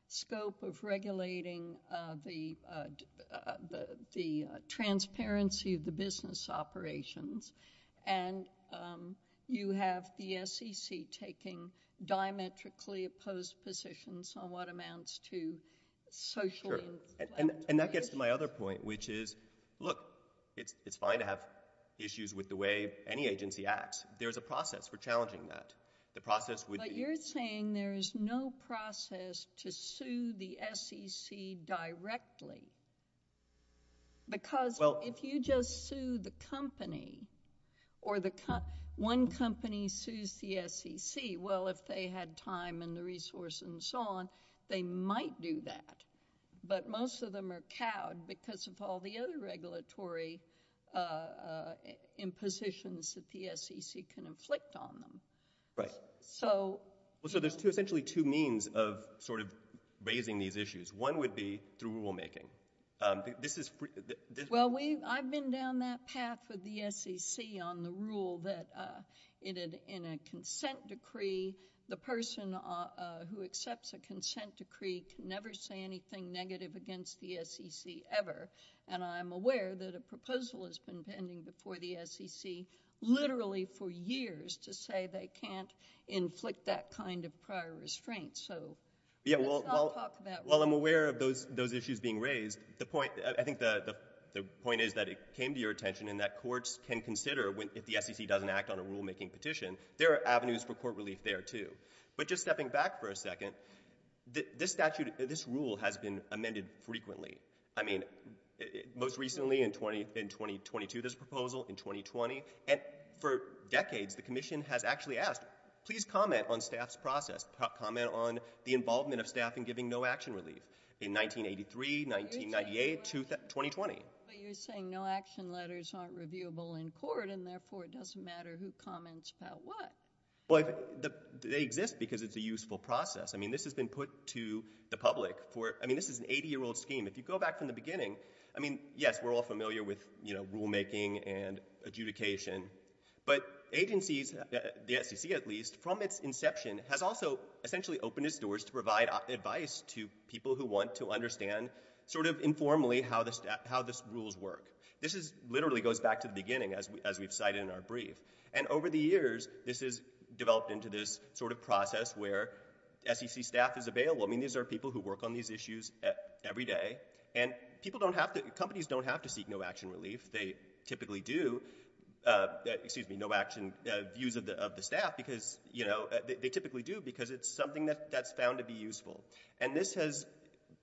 scope of regulating the transparency of the business operations. And you have the SEC taking diametrically opposed positions on what amounts to social Sure, and that gets to my other point, which is, look, it's fine to have issues with the agency acts. There's a process for challenging that. The process would be But you're saying there is no process to sue the SEC directly. Because if you just sue the company, or one company sues the SEC, well, if they had time and the resources and so on, they might do that. But most of them are cowed because of all the other regulatory impositions that the SEC can inflict on them. Right. So Well, so there's essentially two means of sort of raising these issues. One would be through rulemaking. This is Well, we, I've been down that path with the SEC on the rule that in a consent decree, the person who accepts a consent decree can never say anything negative against the SEC ever. And I'm aware that a proposal has been pending before the SEC, literally for years to say they can't inflict that kind of prior restraint. So Yeah, well, I'll talk about Well, I'm aware of those those issues being raised. The point I think the point is that it came to your attention in that courts can consider when if the SEC doesn't act on a rulemaking petition, there are avenues for court relief there too. But just stepping back for a second, this statute, this rule has been amended frequently. I mean, most recently in 2020 to this proposal in 2020. And for decades, the commission has actually asked, please comment on staff's process, comment on the involvement of staff and giving no action relief in 1983, 1998 to 2020. But you're saying no action letters aren't reviewable in court. And therefore, it doesn't matter who comments about what? But they exist because it's a useful process. I mean, this has been put to the public for I mean, this is an 80 year old scheme. If you go back from the beginning, I mean, yes, we're all familiar with, you know, rulemaking and adjudication. But agencies, the SEC, at least from its inception has also essentially opened its doors to provide advice to people who want to understand sort of informally how this how this rules work. This is literally goes back to the beginning as we as we've cited in our brief. And over the years, this is developed into this sort of process where SEC staff is available. I mean, these are people who work on these issues every day. And people don't have to companies don't have to seek no action relief. They typically do. Excuse me, no action views of the staff because, you know, they typically do because it's something that's found to be useful. And this has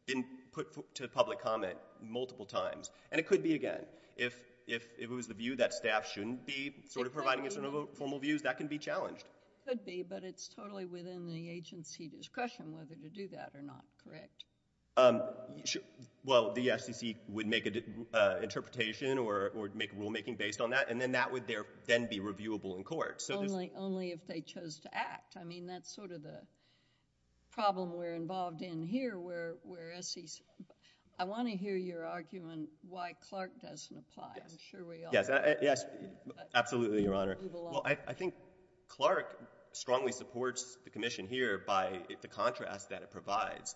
been put to public comment multiple times. And it could be again, if it was the view that staff shouldn't be sort of providing formal views that can be challenged. Could be but it's totally within the agency discretion whether to do that or not, correct? Well, the SEC would make an interpretation or make rulemaking based on that. And then that would then be reviewable in court. So only if they chose to act. I mean, that's sort of the problem we're involved in here where I want to hear your argument why Clark doesn't apply. I'm sure we all. Yes, absolutely, Your Honor. Well, I think Clark strongly supports the commission here by the contrast that it provides.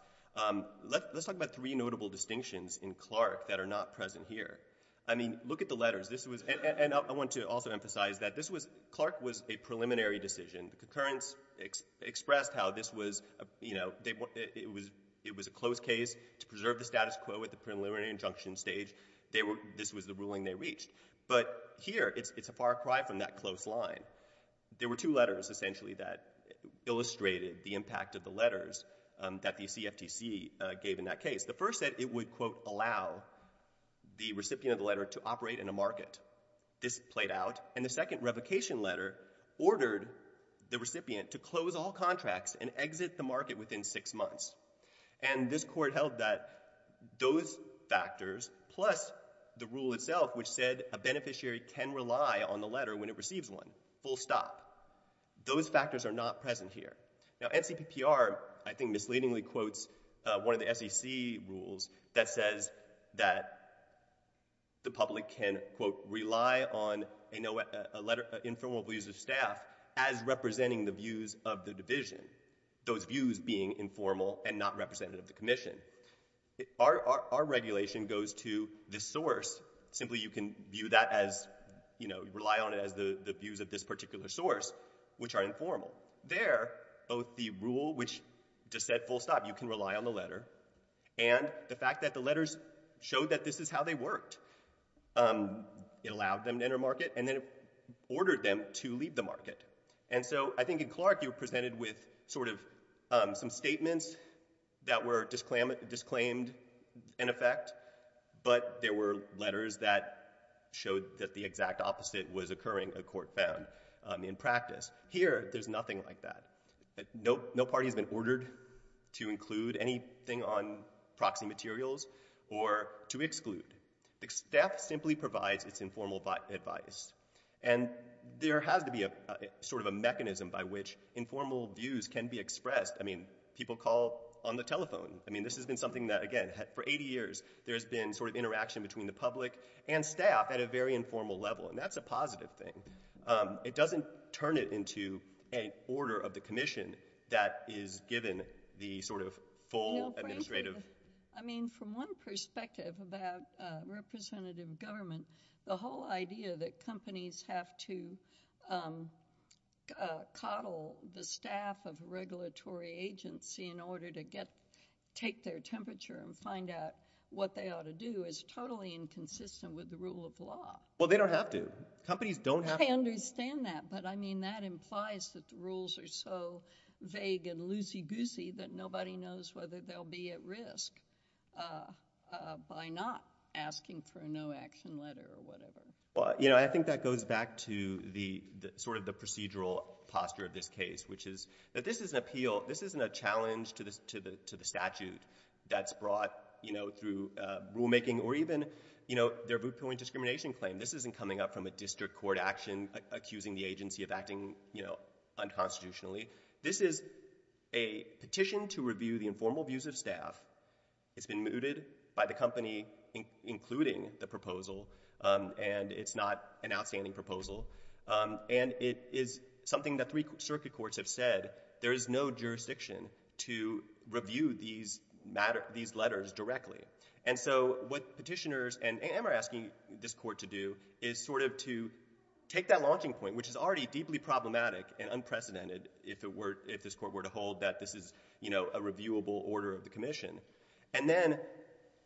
Let's talk about three notable distinctions in Clark that are not present here. I mean, look at the letters. This was and I want to also emphasize that this was Clark was a preliminary decision. The concurrence expressed how this was, you know, it was it was a closed case to preserve the status quo at the preliminary injunction stage. They were this was the ruling they reached. But here it's a far cry from that close line. There were two letters essentially that illustrated the impact of the letters that the CFTC gave in that case. The first said it would, quote, allow the recipient of the letter to operate in a market. This played out. And the second revocation letter ordered the recipient to close all contracts and exit the market within six months. And this court held that those factors, plus the rule itself, which said a beneficiary can rely on the letter when it receives one, full stop. Those factors are not present here. Now, NCPPR, I think, misleadingly quotes one of the SEC rules that says that the public can, quote, rely on a letter, informal views of staff as representing the views of the not representative of the commission. Our regulation goes to the source. Simply you can view that as, you know, rely on it as the views of this particular source, which are informal. There, both the rule, which just said full stop, you can rely on the letter, and the fact that the letters showed that this is how they worked. It allowed them to enter market, and then it ordered them to leave the market. And so I think in Clark, you were presented with sort of some statements that were disclaimed in effect, but there were letters that showed that the exact opposite was occurring, a court found in practice. Here, there's nothing like that. No party has been ordered to include anything on proxy materials or to exclude. The staff simply provides its informal advice. And there has to be a sort of a mechanism by which informal views can be expressed. I mean, people call on the telephone. I mean, this has been something that, again, for 80 years, there's been sort of interaction between the public and staff at a very informal level. And that's a positive thing. It doesn't turn it into a order of the commission that is given the sort of full administrative. I mean, from one perspective about representative government, the whole idea that companies have to coddle the staff of a regulatory agency in order to take their temperature and find out what they ought to do is totally inconsistent with the rule of law. Well, they don't have to. Companies don't have to. I understand that. But I mean, that implies that the rules are so vague and loosey-goosey that nobody knows whether they'll be at risk by not asking for a no-action letter or whatever. Well, you know, I think that goes back to the sort of the procedural posture of this case, which is that this is an appeal. This isn't a challenge to the statute that's brought, you know, through rulemaking or even, you know, their viewpoint discrimination claim. This isn't coming up from a district court action accusing the agency of acting, you know, unconstitutionally. This is a petition to review the informal views of staff. It's been mooted by the company, including the proposal. And it's not an outstanding proposal. And it is something that three circuit courts have said, there is no jurisdiction to review these letters directly. And so what petitioners and AM are asking this court to do is sort of to take that launching point, which is already deeply problematic and unprecedented if it were, if this court were to hold that this is, you know, a reviewable order of the commission. And then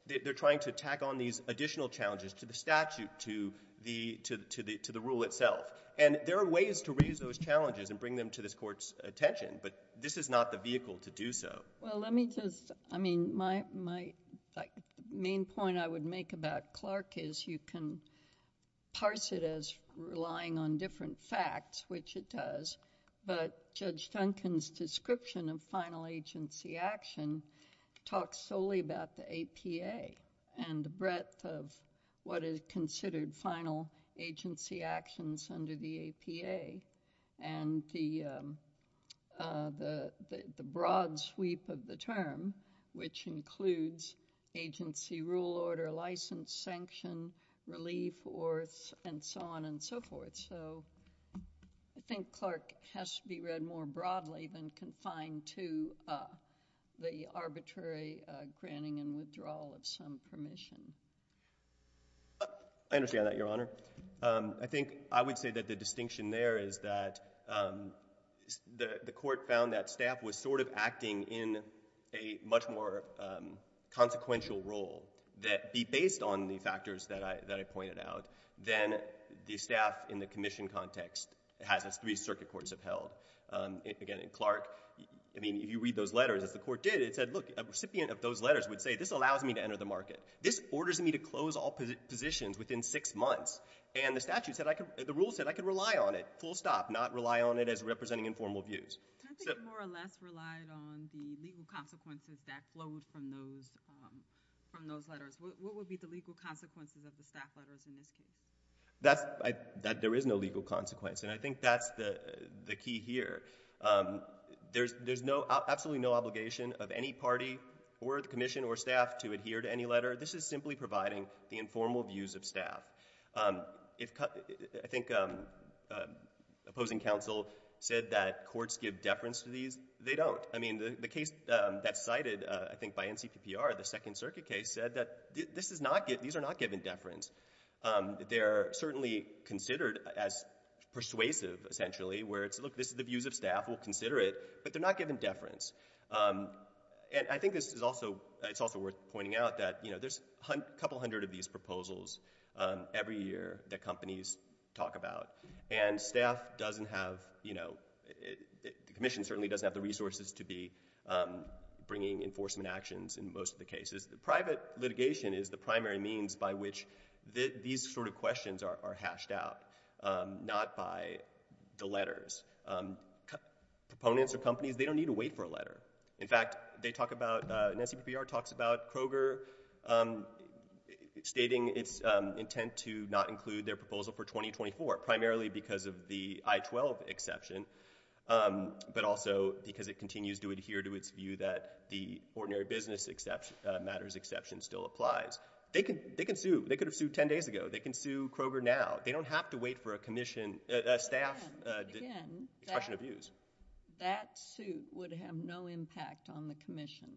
they're trying to tack on these additional challenges to the statute, to the rule itself. And there are ways to raise those challenges and bring them to this court's attention. But this is not the vehicle to do so. Well, let me just, I mean, my main point I would make about Clark is you can parse it as relying on different facts, which it does. But Judge Duncan's description of final agency action talks solely about the APA and the breadth of what is considered final agency actions under the APA and the broad sweep of the term, which includes agency rule order, license, sanction, relief, and so on and so forth. So I think Clark has to be read more broadly than confined to the arbitrary granting and withdrawal of some permission. I understand that, Your Honor. I think I would say that the distinction there is that the court found that staff was sort of in a much more consequential role that be based on the factors that I pointed out than the staff in the commission context has as three circuit courts have held. Again, in Clark, I mean, if you read those letters, as the court did, it said, look, a recipient of those letters would say, this allows me to enter the market. This orders me to close all positions within six months. And the statute said I could, the rule said I could rely on it, full stop, not rely on it as representing informal views. I think more or less relied on the legal consequences that flowed from those letters. What would be the legal consequences of the staff letters in this case? That there is no legal consequence. And I think that's the key here. There's absolutely no obligation of any party or the commission or staff to adhere to any This is simply providing the informal views of staff. If I think opposing counsel said that courts give deference to these, they don't. I mean, the case that's cited, I think by NCPPR, the second circuit case said that this is not, these are not given deference. They're certainly considered as persuasive, essentially, where it's, look, this is the views of staff, we'll consider it, but they're not given deference. And I think this is also, it's also worth pointing out that, you know, there's a couple hundred of these proposals every year that companies talk about. And staff doesn't have, you know, the commission certainly doesn't have the resources to be bringing enforcement actions in most of the cases. Private litigation is the primary means by which these sort of questions are hashed out, not by the letters. Proponents of companies, they don't need to wait for a letter. In fact, they talk about, NCPPR talks about Kroger stating its intent to not include their proposal for 2024, primarily because of the I-12 exception, but also because it continues to adhere to its view that the ordinary business matters exception still applies. They can sue. They could have sued 10 days ago. They can sue Kroger now. They don't have to wait for a commission, a staff expression of views. That suit would have no impact on the commission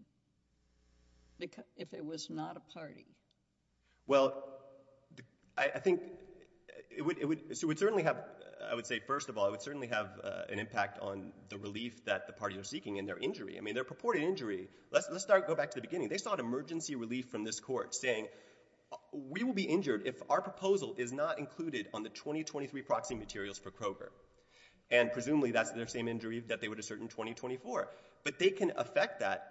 if it was not a party. Well, I think it would certainly have, I would say, first of all, it would certainly have an impact on the relief that the party are seeking in their injury. I mean, their purported injury, let's start, go back to the beginning. They sought emergency relief from this court saying, we will be injured if our proposal is not included on the 2023 proxy materials for Kroger. And presumably, that's their same injury that they would assert in 2024. But they can affect that,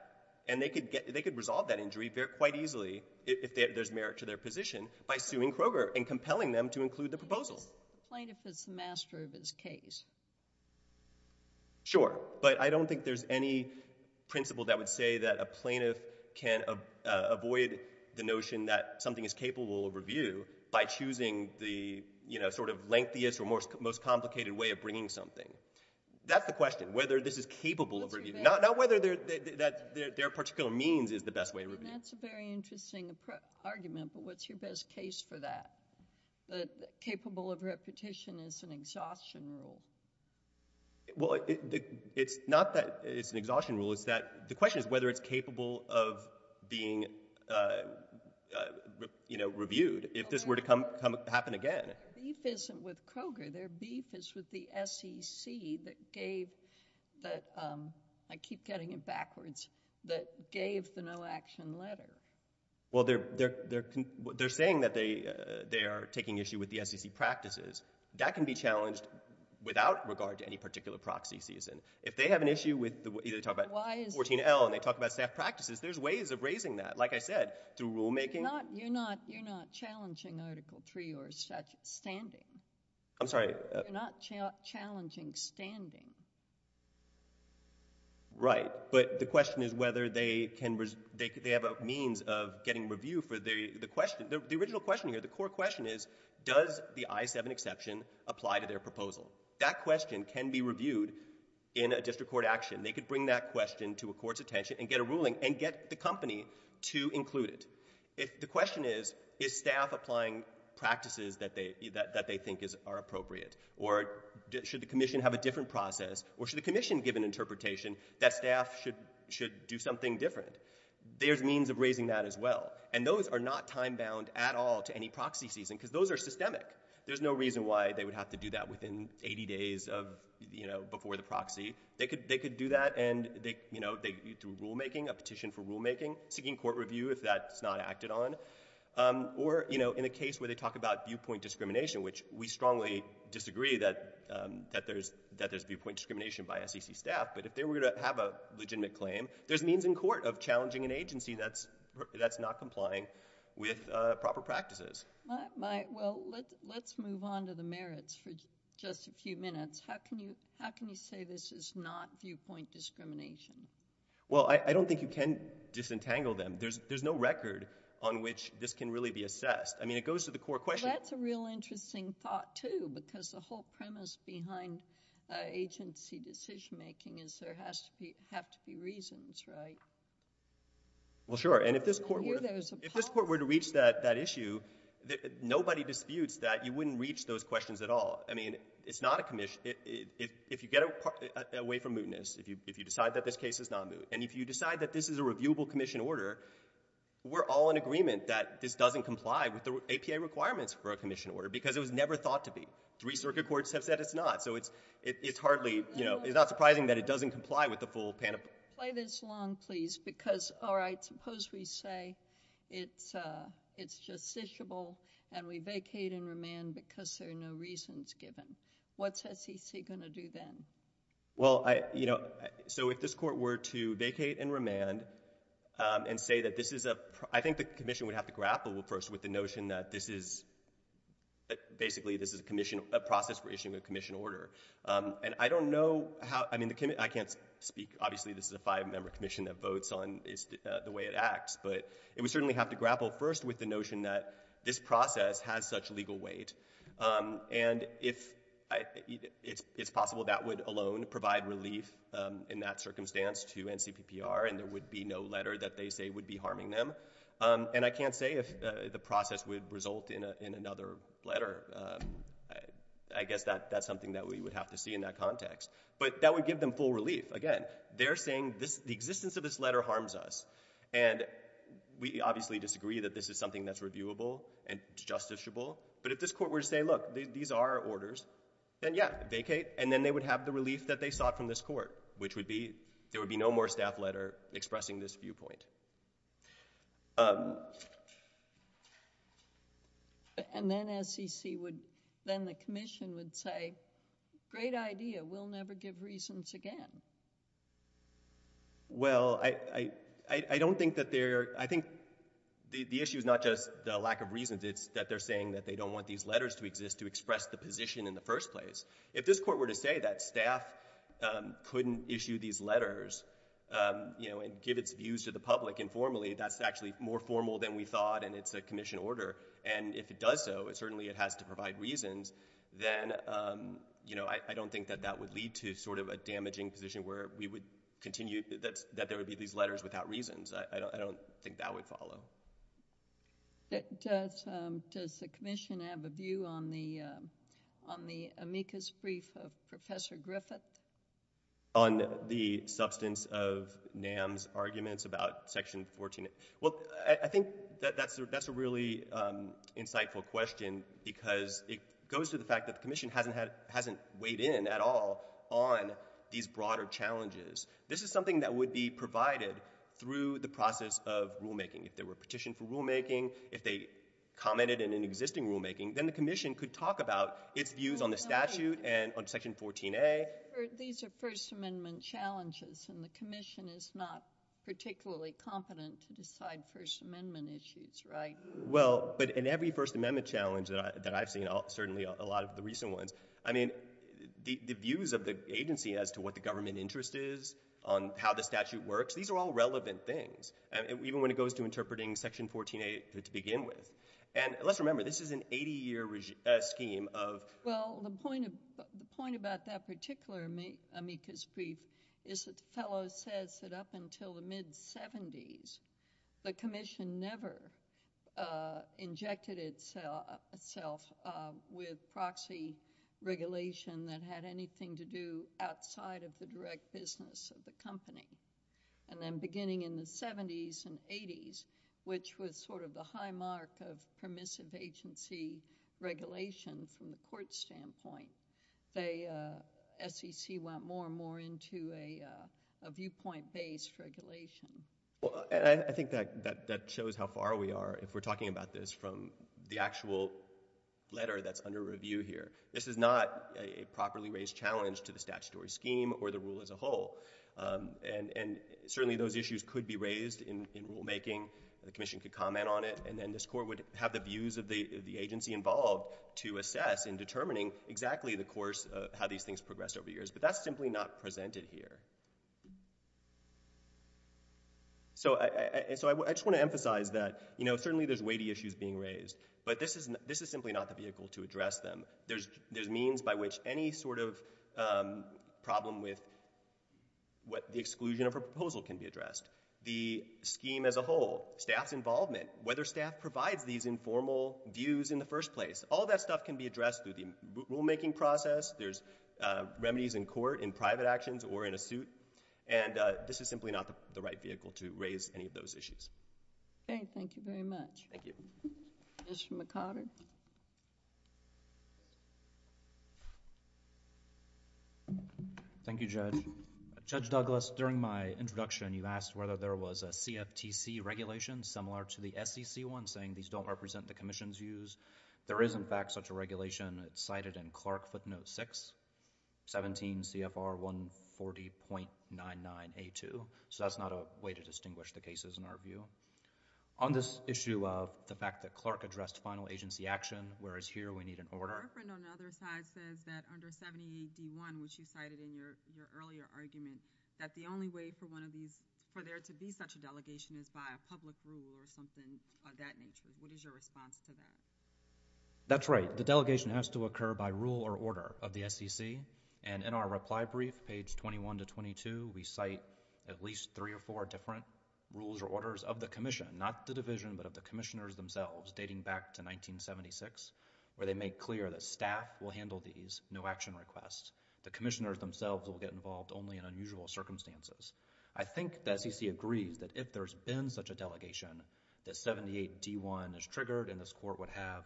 and they could resolve that injury quite easily, if there's merit to their position, by suing Kroger and compelling them to include the proposal. Plaintiff is the master of his case. Sure. But I don't think there's any principle that would say that a plaintiff can avoid the notion that something is capable of review by choosing the, you know, sort of most complicated way of bringing something. That's the question, whether this is capable of review. Not whether their particular means is the best way of review. That's a very interesting argument. But what's your best case for that? The capable of repetition is an exhaustion rule. Well, it's not that it's an exhaustion rule. It's that the question is whether it's capable of being, you know, reviewed. If this were to come happen again. Beef isn't with Kroger. Their beef is with the SEC that gave, that, I keep getting it backwards, that gave the no action letter. Well, they're saying that they are taking issue with the SEC practices. That can be challenged without regard to any particular proxy season. If they have an issue with, you know, they talk about 14L, and they talk about staff practices, there's ways of raising that. Like I said, through rulemaking. You're not challenging Article 3 or such standing. I'm sorry? You're not challenging standing. Right. But the question is whether they can, they have a means of getting review for the question. The original question here, the core question is, does the I-7 exception apply to their proposal? That question can be reviewed in a district court action. They could bring that question to a court's attention and get a ruling and get the company to include it. The question is, is staff applying practices that they think are appropriate? Or should the commission have a different process? Or should the commission give an interpretation that staff should do something different? There's means of raising that as well. And those are not time-bound at all to any proxy season, because those are systemic. There's no reason why they would have to do that within 80 days of, you know, before the proxy. They could do that and, you know, through rulemaking, a petition for rulemaking, seeking court review, if that's not acted on. Or, you know, in a case where they talk about viewpoint discrimination, which we strongly disagree that there's viewpoint discrimination by SEC staff. But if they were to have a legitimate claim, there's means in court of challenging an agency that's not complying with proper practices. Well, let's move on to the merits for just a few minutes. How can you say this is not viewpoint discrimination? Well, I don't think you can disentangle them. There's no record on which this can really be assessed. I mean, it goes to the core question. Well, that's a real interesting thought, too, because the whole premise behind agency decision-making is there has to be reasons, right? Well, sure. And if this court were to reach that issue, nobody disputes that you wouldn't reach those questions at all. I mean, if you get away from mootness, if you decide that this case is not moot, and if you decide that this is a reviewable commission order, we're all in agreement that this doesn't comply with the APA requirements for a commission order, because it was never thought to be. Three circuit courts have said it's not. So it's hardly, you know, it's not surprising that it doesn't comply with the full panoply. Play this along, please, because, all right, suppose we say it's justiciable, and we say it's not. What's SEC going to do then? Well, you know, so if this court were to vacate and remand and say that this is a — I think the commission would have to grapple first with the notion that this is basically this is a commission — a process for issuing a commission order. And I don't know how — I mean, I can't speak — obviously, this is a five-member commission that votes on the way it acts, but it would certainly have to grapple first with the notion that this process has such legal weight. And if it's possible, that would alone provide relief in that circumstance to NCPPR, and there would be no letter that they say would be harming them. And I can't say if the process would result in another letter. I guess that's something that we would have to see in that context. But that would give them full relief. Again, they're saying the existence of this letter harms us. And we obviously disagree that this is something that's reviewable and justiciable. But if this court were to say, look, these are orders, then, yeah, vacate. And then they would have the relief that they sought from this court, which would be — there would be no more staff letter expressing this viewpoint. And then SEC would — then the commission would say, great idea. We'll never give reasons again. Well, I don't think that they're — I think the issue is not just the lack of reasons. It's that they're saying that they don't want these letters to exist to express the position in the first place. If this court were to say that staff couldn't issue these letters, you know, and give its views to the public informally, that's actually more formal than we thought, and it's a commission order. And if it does so, certainly it has to provide reasons. Then, you know, I don't think that that would lead to sort of a damaging position where we would continue — that there would be these letters without reasons. I don't think that would follow. Does the commission have a view on the amicus brief of Professor Griffith? On the substance of NAM's arguments about Section 14? Well, I think that that's a really insightful question because it goes to the fact that the commission hasn't weighed in at all on these broader challenges. This is something that would be provided through the process of rulemaking, if there were a petition for rulemaking, if they commented in an existing rulemaking, then the commission could talk about its views on the statute and on Section 14a. These are First Amendment challenges, and the commission is not particularly competent to decide First Amendment issues, right? Well, but in every First Amendment challenge that I've seen, certainly a lot of the recent ones, I mean, the views of the agency as to what the government interest is, on how the statute works, these are all relevant things. Even when it goes to interpreting Section 14a to begin with. And let's remember, this is an 80-year scheme of— Well, the point about that particular amicus brief is that the fellow says that up until the mid-'70s, the commission never injected itself with proxy regulation that had anything to do outside of the direct business of the company. And then beginning in the 70s and 80s, which was sort of the high mark of permissive agency regulation from the court standpoint, the SEC went more and more into a viewpoint-based regulation. Well, and I think that shows how far we are, if we're talking about this, from the actual letter that's under review here. This is not a properly raised challenge to the statutory scheme or the rule as a whole. And certainly those issues could be raised in rulemaking. The commission could comment on it. And then this court would have the views of the agency involved to assess in determining exactly the course of how these things progressed over the years. But that's simply not presented here. So I just want to emphasize that, you know, certainly there's weighty issues being raised. But this is simply not the vehicle to address them. There's means by which any sort of problem with the exclusion of a proposal can be addressed. The scheme as a whole, staff's involvement, whether staff provides these informal views in the first place, all that stuff can be addressed through the rulemaking process. There's remedies in court, in private actions, or in a suit. And this is simply not the right vehicle to raise any of those issues. OK. Thank you very much. Thank you. Mr. McConnell? Thank you, Judge. Judge Douglas, during my introduction, you asked whether there was a CFTC regulation similar to the SEC one, saying these don't represent the commission's views. There is, in fact, such a regulation. It's cited in Clark footnote 6, 17 CFR 140.99A2. So that's not a way to distinguish the cases in our view. On this issue of the fact that Clark addressed final agency action, whereas here we need an order. Your reference on the other side says that under 78D1, which you cited in your earlier argument, that the only way for one of these, for there to be such a delegation is by a public rule or something of that nature. What is your response to that? That's right. The delegation has to occur by rule or order of the SEC. And in our reply brief, page 21 to 22, we cite at least three or four different rules or orders of the commission, not the division, but of the commissioners themselves, dating back to 1976, where they make clear that staff will handle these, no action requests. The commissioners themselves will get involved only in unusual circumstances. I think the SEC agrees that if there's been such a delegation, that 78D1 is triggered and this court would have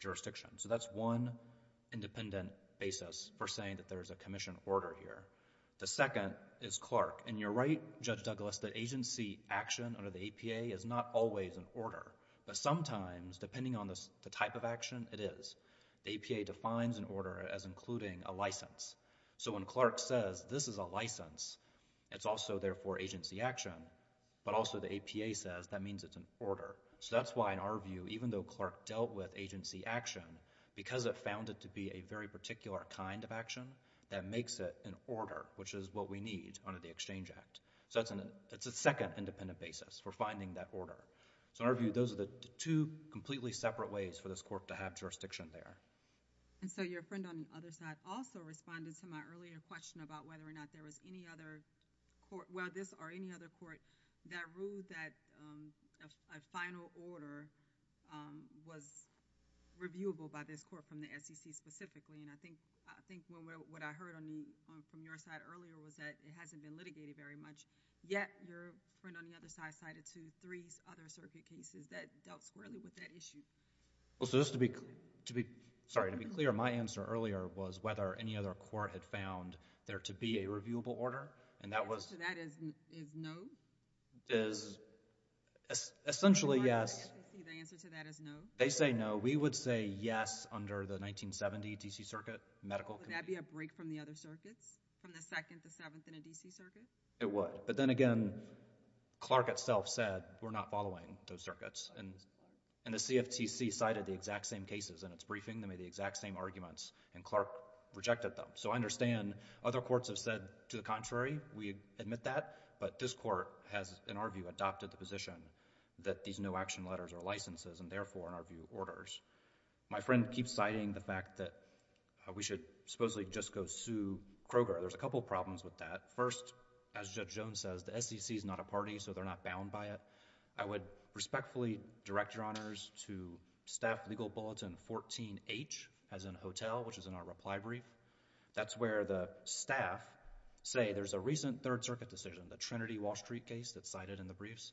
jurisdiction. So that's one independent basis for saying that there's a commission order here. The second is Clark. And you're right, Judge Douglas, that agency action under the APA is not always an order. But sometimes, depending on the type of action, it is. The APA defines an order as including a license. So when Clark says this is a license, it's also therefore agency action, but also the APA says that means it's an order. So that's why in our view, even though Clark dealt with agency action, because it found it to be a very particular kind of action, that makes it an order, which is what we need under the Exchange Act. So it's a second independent basis for finding that order. So in our view, those are the two completely separate ways for this court to have jurisdiction there. And so your friend on the other side also responded to my earlier question about whether or not there was any other court, well, this or any other court, that ruled that a final order was reviewable by this court from the SEC specifically. And I think what I heard from your side earlier was that it hasn't been litigated very much, yet your friend on the other side cited to three other circuit cases that dealt squarely with that issue. Well, so just to be, sorry, to be clear, my answer earlier was whether any other court had found there to be a reviewable order. And that was— The answer to that is no? Is essentially yes. The answer to that is no? They say no. We would say yes under the 1970 D.C. Circuit Medical Committee. Would that be a break from the other circuits, from the 2nd, the 7th, and the D.C. Circuit? It would. But then again, Clark itself said, we're not following those circuits. And the CFTC cited the exact same cases in its briefing. They made the exact same arguments, and Clark rejected them. So I understand other courts have said to the contrary. We admit that. But this court has, in our view, adopted the position that these no-action letters are licenses and therefore, in our view, orders. My friend keeps citing the fact that we should supposedly just go sue Kroger. There's a couple problems with that. First, as Judge Jones says, the SEC is not a party, so they're not bound by it. I would respectfully direct your honors to Staff Legal Bulletin 14-H, as in Hotel, which is in our reply brief. That's where the staff say there's a recent 3rd Circuit decision, the Trinity-Wall Street case that's cited in the briefs.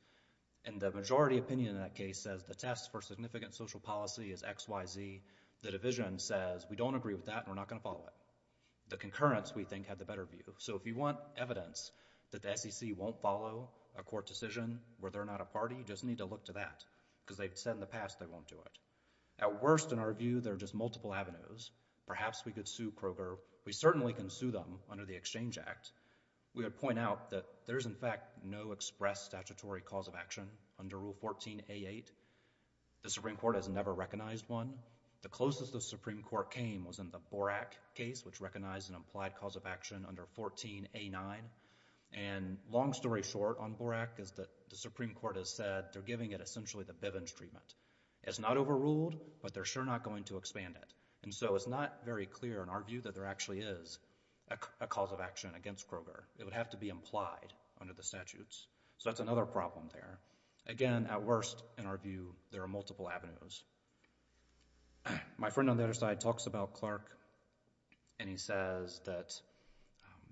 And the majority opinion in that case says the test for significant social policy is X, Y, Z. The division says, we don't agree with that and we're not going to follow it. The concurrence, we think, had the better view. If you want evidence that the SEC won't follow a court decision where they're not a party, you just need to look to that. Because they've said in the past they won't do it. At worst, in our view, there are just multiple avenues. Perhaps we could sue Kroger. We certainly can sue them under the Exchange Act. We would point out that there is, in fact, no express statutory cause of action under Rule 14A8. The Supreme Court has never recognized one. The closest the Supreme Court came was in the Borak case, which recognized an implied cause of action under 14A9. And long story short on Borak is that the Supreme Court has said they're giving it essentially the Bivens treatment. It's not overruled, but they're sure not going to expand it. And so it's not very clear in our view that there actually is a cause of action against Kroger. It would have to be implied under the statutes. So that's another problem there. Again, at worst, in our view, there are multiple avenues. My friend on the other side talks about Clark, and he says that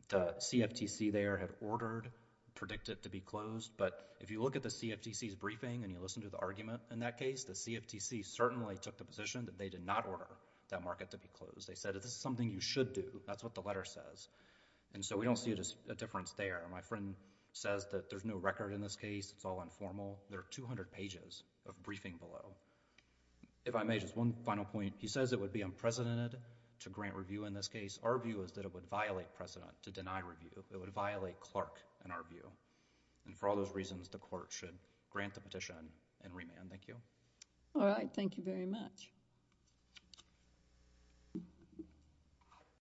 the CFTC there had ordered, predicted to be closed. But if you look at the CFTC's briefing and you listen to the argument in that case, the CFTC certainly took the position that they did not order that market to be closed. They said, this is something you should do. That's what the letter says. And so we don't see a difference there. My friend says that there's no record in this case. It's all informal. There are 200 pages of briefing below. If I may, just one final point. He says it would be unprecedented to grant review in this case. Our view is that it would violate precedent to deny review. It would violate Clark in our view. And for all those reasons, the court should grant the petition and remand. Thank you. All right. Thank you very much.